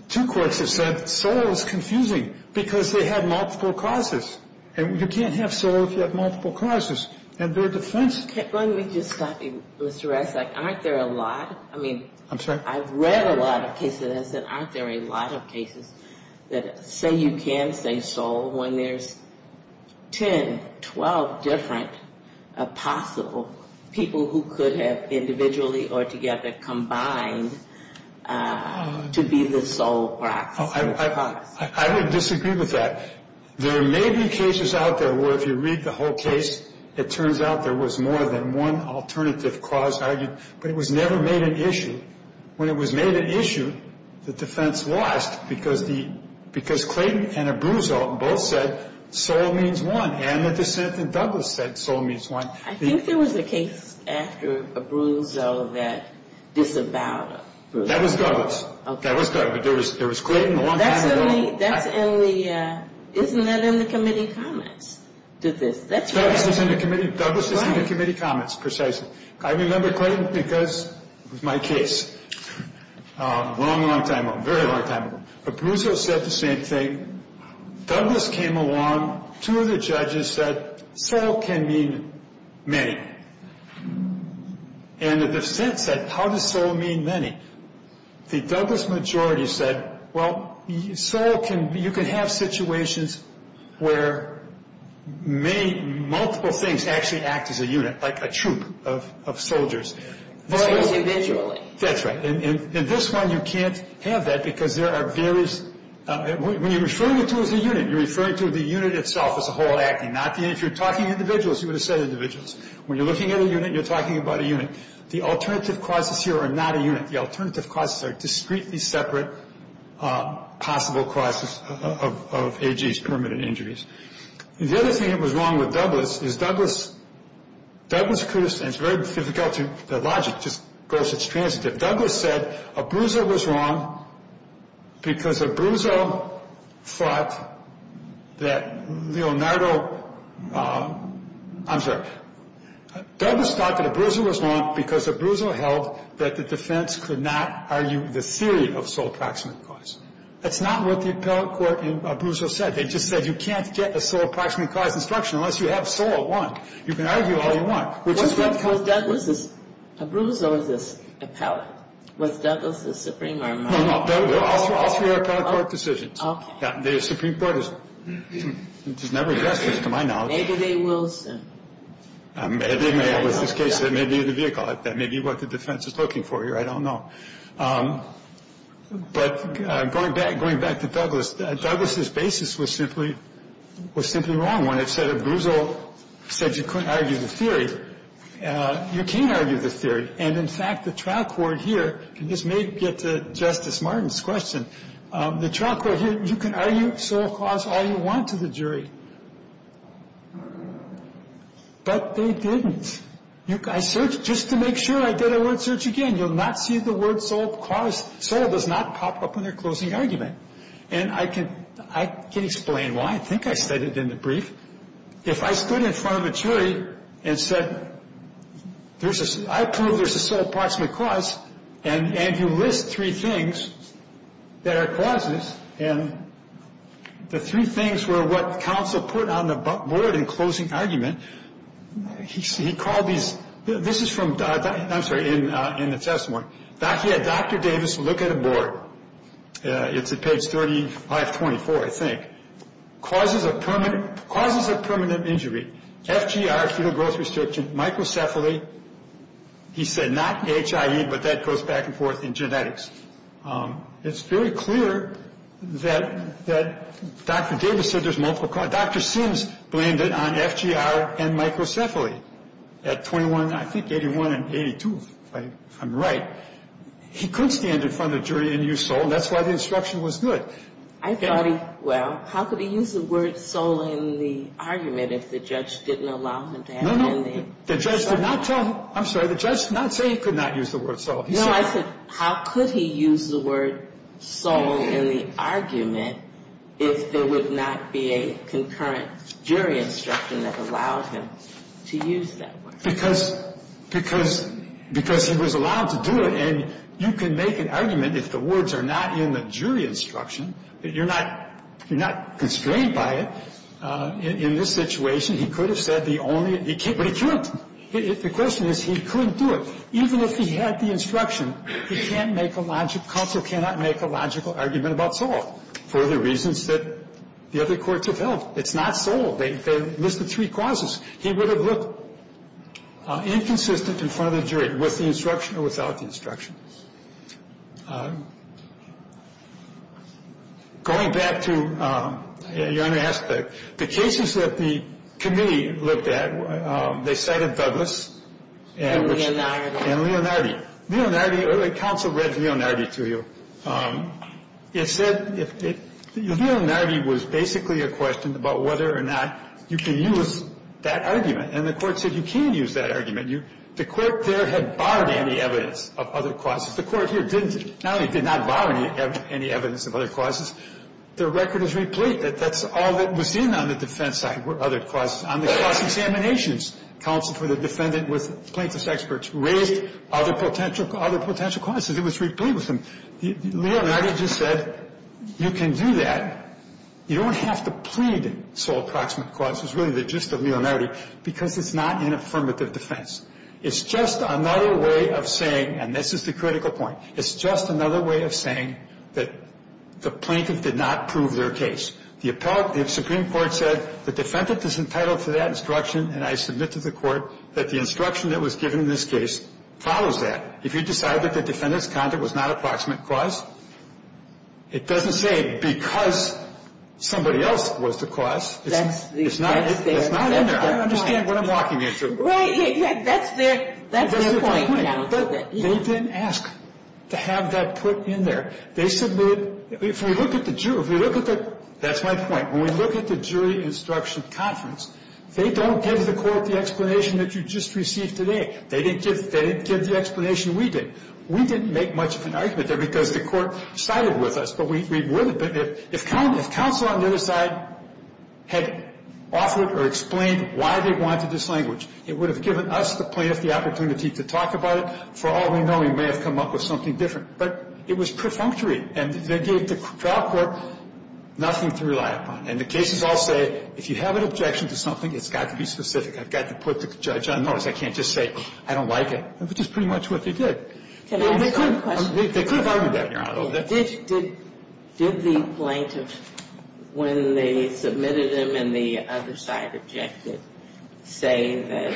Two courts have said sole is confusing because they have multiple causes. And you can't have sole if you have multiple causes. And their defense... Let me just stop you, Mr. Resnick. Aren't there a lot? I'm sorry? I've read a lot of cases that have said aren't there a lot of cases that say you can say sole when there's 10, 12 different possible people who could have individually or together combined to be the sole proxy. I would disagree with that. There may be cases out there where if you read the whole case, it turns out there was more than one alternative cause argued, but it was never made an issue. When it was made an issue, the defense lost because Clayton and Abruzzo both said sole means one. And the dissent in Douglas said sole means one. I think there was a case after Abruzzo that disavowed Abruzzo. That was Douglas. That was Douglas. But there was Clayton a long time ago. Isn't that in the committee comments? Douglas is in the committee comments, precisely. I remember Clayton because it was my case a long, long time ago, a very long time ago. Abruzzo said the same thing. Douglas came along. Two of the judges said sole can mean many. And the dissent said, how does sole mean many? The Douglas majority said, well, you can have situations where multiple things actually act as a unit, like a troop of soldiers. So it's individually. That's right. In this one, you can't have that because there are various. When you're referring to it as a unit, you're referring to the unit itself as a whole acting, not the individual. If you're talking individuals, you would have said individuals. When you're looking at a unit, you're talking about a unit. The alternative causes here are not a unit. The alternative causes are discretely separate possible causes of AGs, permanent injuries. The other thing that was wrong with Douglas is Douglas could have said, and it's very difficult to, the logic just goes, it's transitive. Douglas said Abruzzo was wrong because Abruzzo thought that Leonardo, I'm sorry, Douglas thought that Abruzzo was wrong because Abruzzo held that the defense could not argue the theory of sole proximate cause. That's not what the appellate court in Abruzzo said. They just said you can't get a sole proximate cause instruction unless you have sole at one. You can argue all you want. Was Abruzzo this appellate? Was Douglas this supreme or not? No, no. All three are appellate court decisions. Okay. The Supreme Court has never addressed this to my knowledge. Maybe they will soon. It may be the case that it may be the vehicle. It may be what the defense is looking for here. I don't know. But going back to Douglas, Douglas' basis was simply wrong when it said Abruzzo said you couldn't argue the theory. You can argue the theory. And, in fact, the trial court here, and this may get to Justice Martin's question, the trial court here, you can argue sole cause all you want to the jury. But they didn't. I searched just to make sure. I did a word search again. You'll not see the word sole cause. Sole does not pop up in their closing argument. And I can explain why. I think I said it in the brief. If I stood in front of a jury and said, I approve there's a sole approximate cause, and you list three things that are causes, and the three things were what counsel put on the board in closing argument, he called these, this is from, I'm sorry, in the testimony. He had Dr. Davis look at a board. It's at page 3524, I think. Causes of permanent injury. FGR, fetal growth restriction, microcephaly. He said not HIE, but that goes back and forth in genetics. It's very clear that Dr. Davis said there's multiple causes. Dr. Sims blamed it on FGR and microcephaly at 21, I think, 81 and 82, if I'm right. He couldn't stand in front of the jury and use sole, and that's why the instruction was good. I thought he, well, how could he use the word sole in the argument if the judge didn't allow him to have it in there? No, no. The judge did not tell him. I'm sorry. The judge did not say he could not use the word sole. No, I said how could he use the word sole in the argument if there would not be a concurrent jury instruction that allowed him to use that word? Because he was allowed to do it, and you can make an argument if the words are not in the jury instruction. You're not constrained by it. In this situation, he could have said the only, but he couldn't. The question is he couldn't do it. Even if he had the instruction, he can't make a logical, counsel cannot make a logical argument about sole for the reasons that the other courts have held. It's not sole. They listed three causes. He would have looked inconsistent in front of the jury, with the instruction or without the instruction. Going back to, your Honor asked, the cases that the committee looked at, they cited Douglas. And Leonardo. And Leonardo. Leonardo, the counsel read Leonardo to you. It said if it, Leonardo was basically a question about whether or not you can use that argument. And the Court said you can use that argument. The Court there had barred any evidence of other causes. The Court here didn't, not only did not bar any evidence of other causes, the record is replete. That's all that was in on the defense side were other causes. On the cross-examinations, counsel for the defendant was plaintiff's expert, raised other potential causes. It was replete with them. Leonardo just said you can do that. You don't have to plead sole proximate cause. It's really the gist of Leonardo, because it's not an affirmative defense. It's just another way of saying, and this is the critical point, it's just another way of saying that the plaintiff did not prove their case. The Supreme Court said the defendant is entitled to that instruction, and I submit to the Court that the instruction that was given in this case follows that. If you decide that the defendant's conduct was not a proximate cause, it doesn't say because somebody else was the cause. It's not in there. I understand what I'm walking into. Right. That's their point now. They didn't ask to have that put in there. They submitted, if we look at the jury, if we look at the, that's my point. When we look at the jury instruction conference, they don't give the Court the explanation that you just received today. They didn't give the explanation we did. We didn't make much of an argument there because the Court sided with us, but we would have. But if counsel on the other side had offered or explained why they wanted this language, it would have given us, the plaintiff, the opportunity to talk about it. For all we know, we may have come up with something different. But it was perfunctory, and they gave the trial court nothing to rely upon. And the cases all say, if you have an objection to something, it's got to be specific. I've got to put the judge on notice. I can't just say, I don't like it, which is pretty much what they did. Can I ask a question? They could have argued that in your honor. Did the plaintiff, when they submitted him and the other side objected, say that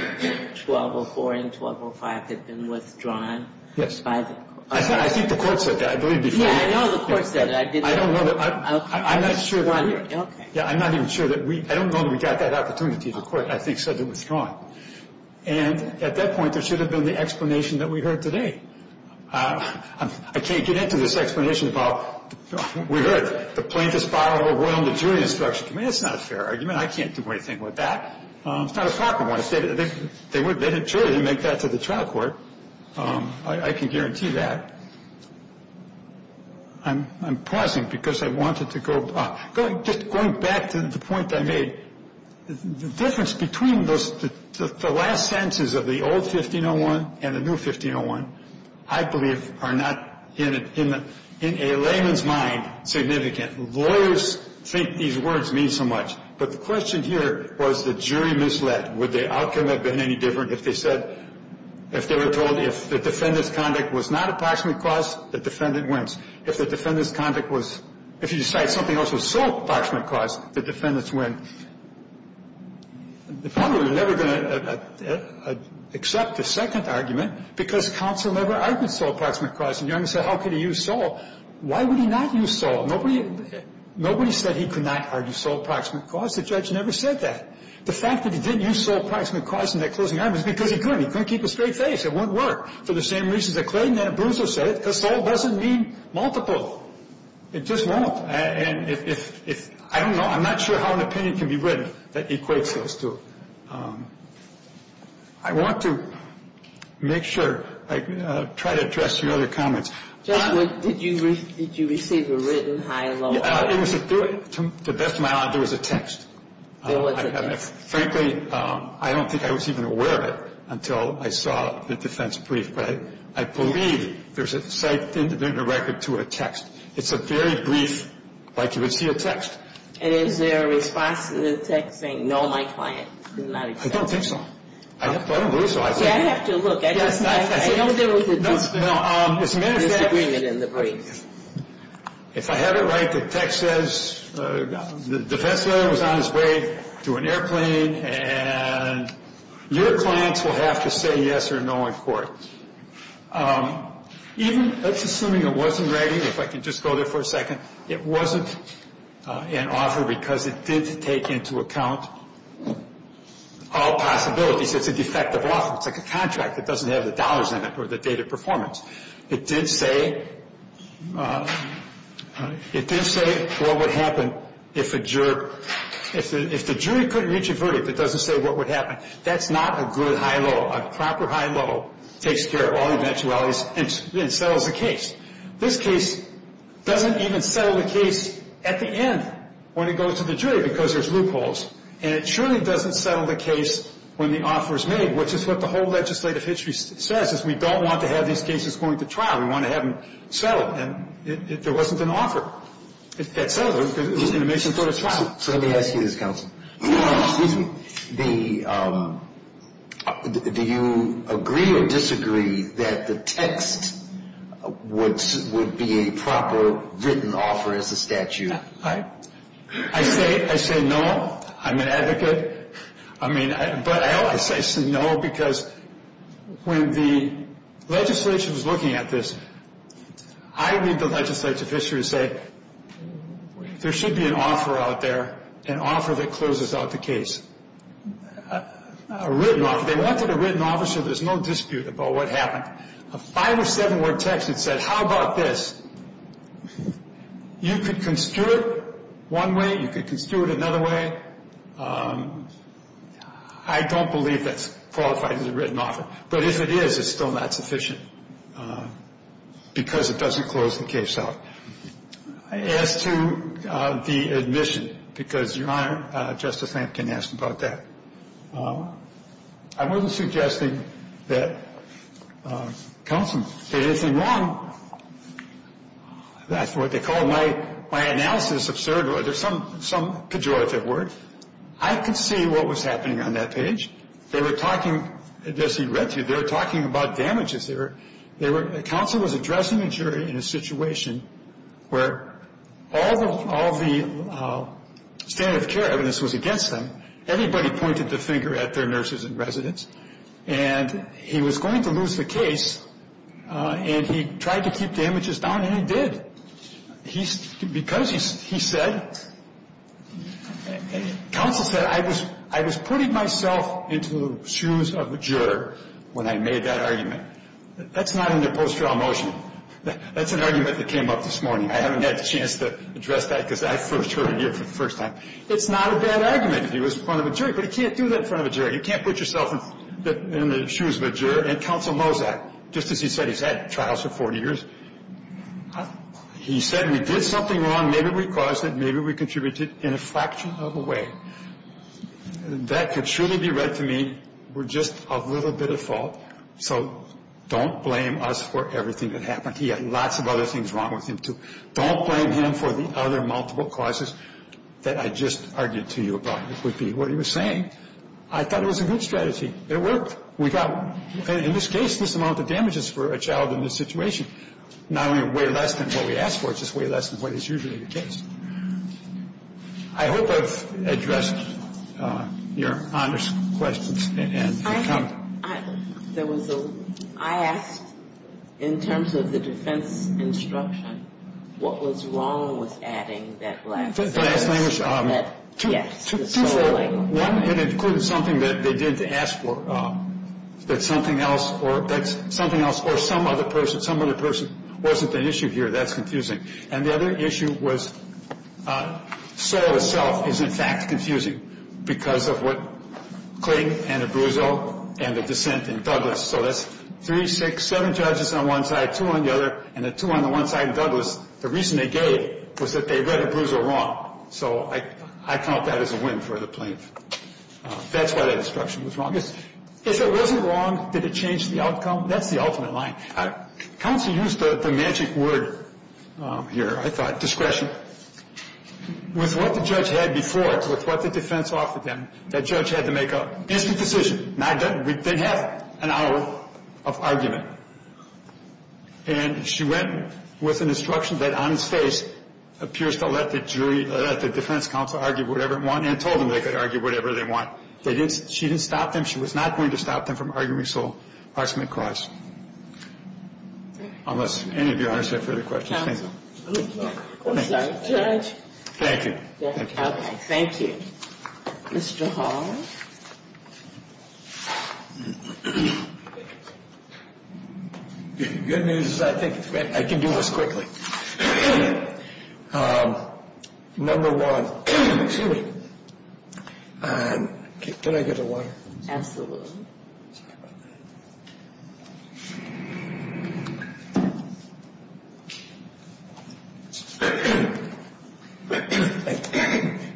1204 and 1205 had been withdrawn? Yes. I think the Court said that, I believe, before you. Yeah, I know the Court said that. I don't know. I'm not sure. Okay. Yeah, I'm not even sure that we, I don't know that we got that opportunity. The Court, I think, said they withdrew him. And at that point, there should have been the explanation that we heard today. I can't get into this explanation about, we heard it, the plaintiff's borrowed a royal maturity instruction. To me, that's not a fair argument. I can't do anything with that. It's not a proper one. If they had juried and made that to the trial court, I can guarantee that. I'm pausing because I wanted to go back. Just going back to the point that I made, the difference between the last sentences of the old 1501 and the new 1501, I believe, are not, in a layman's mind, significant. Lawyers think these words mean so much. But the question here was the jury misled. Would the outcome have been any different if they said, if they were told if the defendant's conduct was not approximate cause, the defendant wins? If the defendant's conduct was, if you decide something else was sole approximate cause, the defendants win. The point is, we're never going to accept the second argument because counsel never argued sole approximate cause. And Young said, how could he use sole? Why would he not use sole? Nobody said he could not argue sole approximate cause. The judge never said that. The fact that he didn't use sole approximate cause in that closing argument is because he couldn't. He couldn't keep a straight face. It wouldn't work. I don't know. I'm not sure how an opinion can be written that equates those two. I want to make sure I try to address your other comments. Ginsburg, did you receive a written high and low argument? It was a, to the best of my knowledge, there was a text. There was a text. Frankly, I don't think I was even aware of it until I saw the defense brief. But I believe there's a site in the record to a text. It's a very brief, like you would see a text. And is there a response in the text saying, no, my client did not accept? I don't think so. I don't believe so. See, I have to look. I don't think there was a disagreement in the brief. If I have it right, the text says the defense lawyer was on his way to an airplane, and your clients will have to say yes or no in court. Even assuming it wasn't writing, if I can just go there for a second, it wasn't an offer because it did take into account all possibilities. It's a defective offer. It's like a contract. It doesn't have the dollars in it or the data performance. It did say, it did say what would happen if a jury, if the jury couldn't reach a verdict that doesn't say what would happen. That's not a good high low. A proper high low takes care of all eventualities and settles the case. This case doesn't even settle the case at the end when it goes to the jury because there's loopholes. And it surely doesn't settle the case when the offer is made, which is what the whole legislative history says, is we don't want to have these cases going to trial. We want to have them settled. And there wasn't an offer. It settled it because it was going to make some sort of trial. So let me ask you this, counsel. Excuse me. The, do you agree or disagree that the text would be a proper written offer as a statute? I say no. I'm an advocate. I mean, but I always say no because when the legislature was looking at this, I read the legislative history and say there should be an offer out there, an offer that closes out the case. A written offer. They wanted a written offer so there's no dispute about what happened. A five or seven word text that said how about this. You could construe it one way. You could construe it another way. I don't believe that's qualified as a written offer. But if it is, it's still not sufficient because it doesn't close the case out. As to the admission, because Your Honor, Justice Lampkin asked about that. I wasn't suggesting that counsel did anything wrong. That's what they call my analysis absurd. There's some pejorative word. I could see what was happening on that page. They were talking, as he read through, they were talking about damages. They were, counsel was addressing a jury in a situation where all the standard of care evidence was against them. Everybody pointed the finger at their nurses and residents. And he was going to lose the case and he tried to keep damages down and he did. He said, because he said, counsel said I was putting myself into the shoes of a juror when I made that argument. That's not in the post-trial motion. That's an argument that came up this morning. I haven't had a chance to address that because I first heard it here for the first time. It's not a bad argument if he was in front of a jury, but he can't do that in front of a jury. You can't put yourself in the shoes of a juror. And counsel knows that. Just as he said, he's had trials for 40 years. He said we did something wrong. Maybe we caused it. Maybe we contributed in a fraction of a way. That could truly be read to me. We're just a little bit at fault. So don't blame us for everything that happened. He had lots of other things wrong with him, too. Don't blame him for the other multiple causes that I just argued to you about. It would be what he was saying. I thought it was a good strategy. It worked. We got, in this case, this amount of damages for a child in this situation, not only way less than what we asked for, it's just way less than what is usually the case. I hope I've addressed Your Honor's questions and your comment. There was a – I asked in terms of the defense instruction, what was wrong with adding that last sentence? The last sentence? Yes. One, it included something that they didn't ask for. That something else or some other person wasn't an issue here. That's confusing. And the other issue was Saul himself is, in fact, confusing because of what Kling and Abruzzo and the dissent in Douglas. So that's three, six, seven judges on one side, two on the other, and the two on the one side in Douglas. The reason they gave was that they read Abruzzo wrong. So I count that as a win for the plaintiff. That's why that instruction was wrong. If it wasn't wrong, did it change the outcome? That's the ultimate line. Counsel used the magic word here, I thought, discretion. With what the judge had before, with what the defense offered them, that judge had to make an instant decision. Not done. We didn't have an hour of argument. And she went with an instruction that on its face appears to let the jury, let the defense counsel argue whatever it want and told them they could argue whatever they want. She didn't stop them. She was not going to stop them from arguing Saul Parksman Clause. Unless any of you have further questions. Oh, sorry. Judge. Thank you. Okay. Thank you. Mr. Hall. Good news. I think I can do this quickly. Number one. Excuse me. Can I get a water? Absolutely.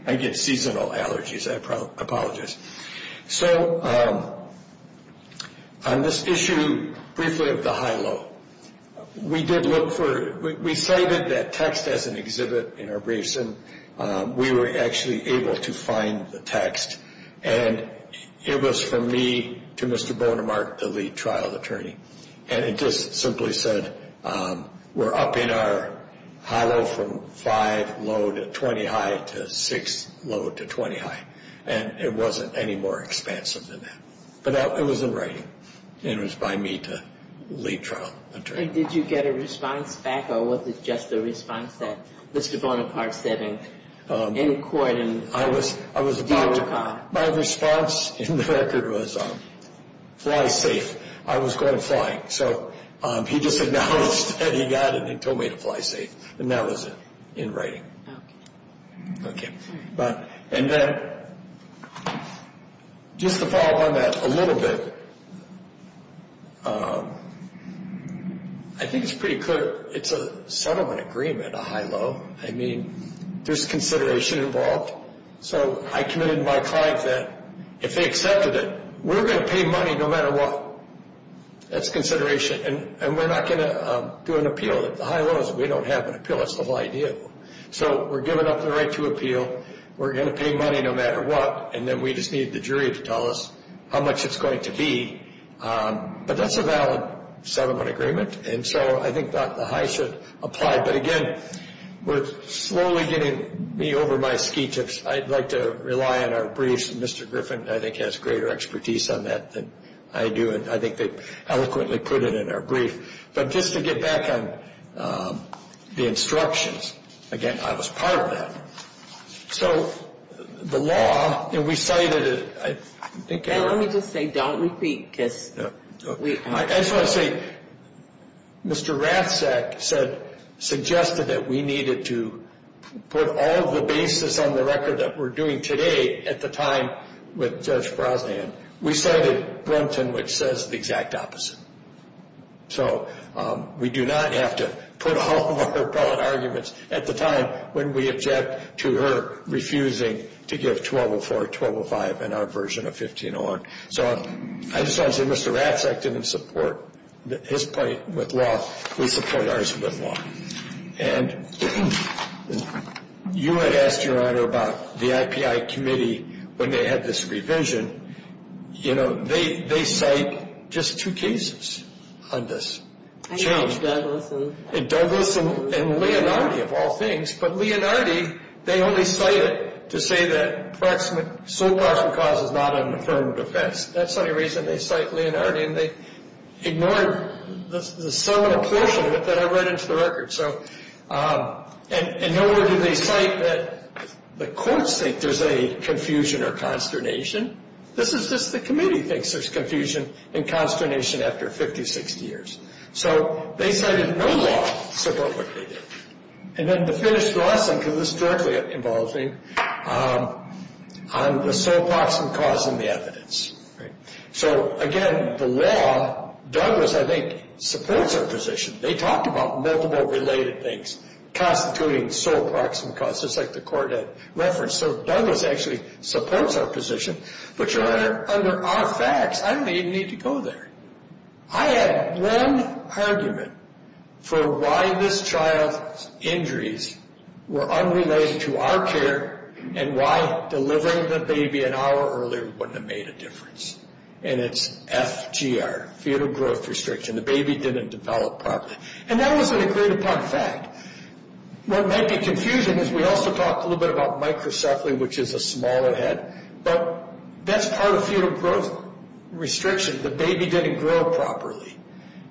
I get seasonal allergies. I apologize. So on this issue briefly of the high-low, we did look for, we cited that text as an exhibit in our briefs and we were actually able to find the text. And it was from me to Mr. Bonemark, the lead trial attorney. And it just simply said we're up in our high-low from 5 low to 20 high to 6 low to 20 high. And it wasn't any more expansive than that. But it was in writing. And it was by me to lead trial attorney. And did you get a response back or was it just a response that Mr. Bonemark said in court? I was about to. My response in the record was fly safe. I was going flying. So he just acknowledged that he got it and told me to fly safe. And that was it in writing. Okay. And then just to follow on that a little bit, I think it's pretty clear it's a settlement agreement, a high-low. I mean, there's consideration involved. So I committed to my client that if they accepted it, we're going to pay money no matter what. That's consideration. And we're not going to do an appeal. The high-low is we don't have an appeal. That's the whole idea. So we're giving up the right to appeal. We're going to pay money no matter what. And then we just need the jury to tell us how much it's going to be. But that's a valid settlement agreement. And so I think that the high should apply. But, again, we're slowly getting me over my ski tips. I'd like to rely on our briefs. And Mr. Griffin, I think, has greater expertise on that than I do. And I think they eloquently put it in our brief. But just to get back on the instructions, again, I was part of that. So the law, and we cited it. Let me just say, don't repeat, because we are. I just want to say, Mr. Ratzak suggested that we needed to put all the bases on the record that we're doing today at the time with Judge Brosnan. We cited Brunton, which says the exact opposite. So we do not have to put all of our appellate arguments at the time when we object to her refusing to give 1204, 1205 in our version of 1501. So I just want to say, Mr. Ratzak didn't support his point with law. We support ours with law. And you had asked, Your Honor, about the IPI Committee when they had this revision. You know, they cite just two cases on this change. Douglas and Leonardi, of all things. But Leonardi, they only cite it to say that sole proximate cause is not an affirmed offense. That's the only reason they cite Leonardi. And they ignored the sum or portion of it that I read into the record. And nor do they cite that the courts think there's any confusion or consternation. This is just the committee thinks there's confusion and consternation after 50, 60 years. So they cited no law, so vote what they did. And then to finish the lesson, because this directly involved me, on the sole proximate cause and the evidence. So, again, the law, Douglas, I think, supports our position. They talked about multiple related things constituting sole proximate cause, just like the court had referenced. So Douglas actually supports our position. But, Your Honor, under our facts, I don't even need to go there. I had one argument for why this child's injuries were unrelated to our care and why delivering the baby an hour earlier wouldn't have made a difference. And it's FGR, fetal growth restriction. The baby didn't develop properly. And that was an agreed upon fact. What might be confusing is we also talked a little bit about microcephaly, which is a smaller head. But that's part of fetal growth restriction. The baby didn't grow properly.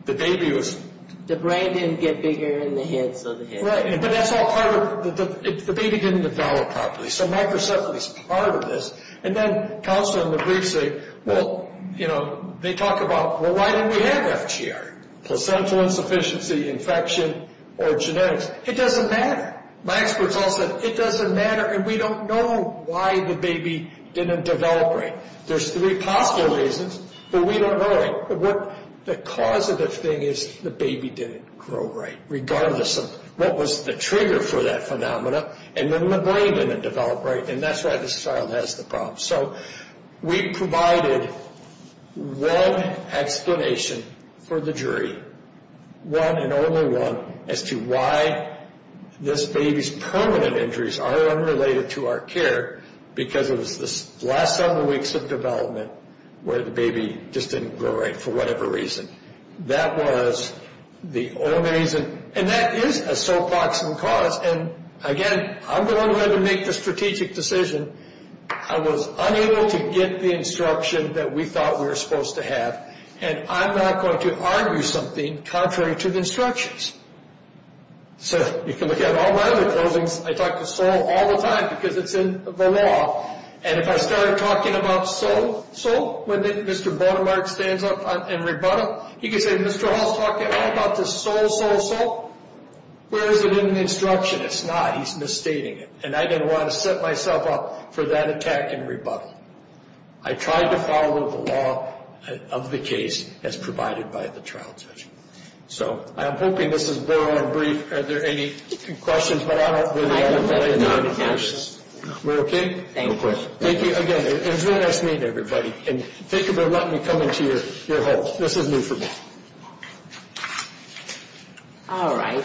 The baby was... The brain didn't get bigger in the head, so the head... Right, but that's all part of... The baby didn't develop properly. So microcephaly's part of this. And then counsel in the brief say, well, you know, they talk about, well, why didn't we have FGR? Placental insufficiency, infection, or genetics. It doesn't matter. My experts all said it doesn't matter and we don't know why the baby didn't develop right. There's three possible reasons, but we don't know it. The causative thing is the baby didn't grow right, regardless of what was the trigger for that phenomena. And then the brain didn't develop right. And that's why this child has the problem. So we provided one explanation for the jury, one and only one, as to why this baby's permanent injuries are unrelated to our care, because it was the last several weeks of development where the baby just didn't grow right for whatever reason. That was the only reason. And that is a so proximal cause. And, again, I'm the one who had to make the strategic decision. I was unable to get the instruction that we thought we were supposed to have. And I'm not going to argue something contrary to the instructions. So you can look at all my other closings. I talk to SOLE all the time because it's in the law. And if I start talking about SOLE, SOLE, when Mr. Bonamart stands up and rebuttal, he can say, Mr. Hall's talking all about this SOLE, SOLE, SOLE. Where is it in the instruction? It's not. He's misstating it. And I didn't want to set myself up for that attack and rebuttal. I tried to follow the law of the case as provided by the trial judge. So I'm hoping this is broad and brief. Are there any questions? But I don't believe I have any. We're okay? No questions. Thank you. Again, it was really nice meeting everybody. And thank you for letting me come into your home. This is new for me. All right.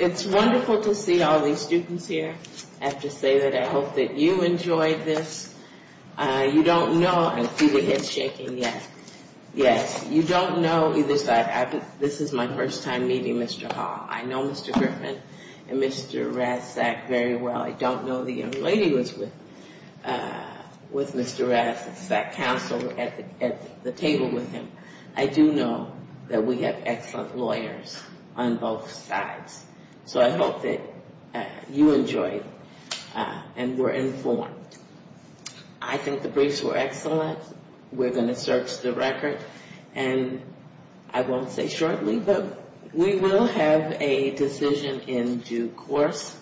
It's wonderful to see all these students here. I have to say that I hope that you enjoyed this. You don't know. I see the heads shaking. Yes. Yes. You don't know. This is my first time meeting Mr. Hall. I know Mr. Griffin and Mr. Razzak very well. I don't know the young lady was with Mr. Razzak. I sat counsel at the table with him. I do know that we have excellent lawyers on both sides. So I hope that you enjoyed and were informed. I think the briefs were excellent. We're going to search the record. And I won't say shortly, but we will have a decision in due course.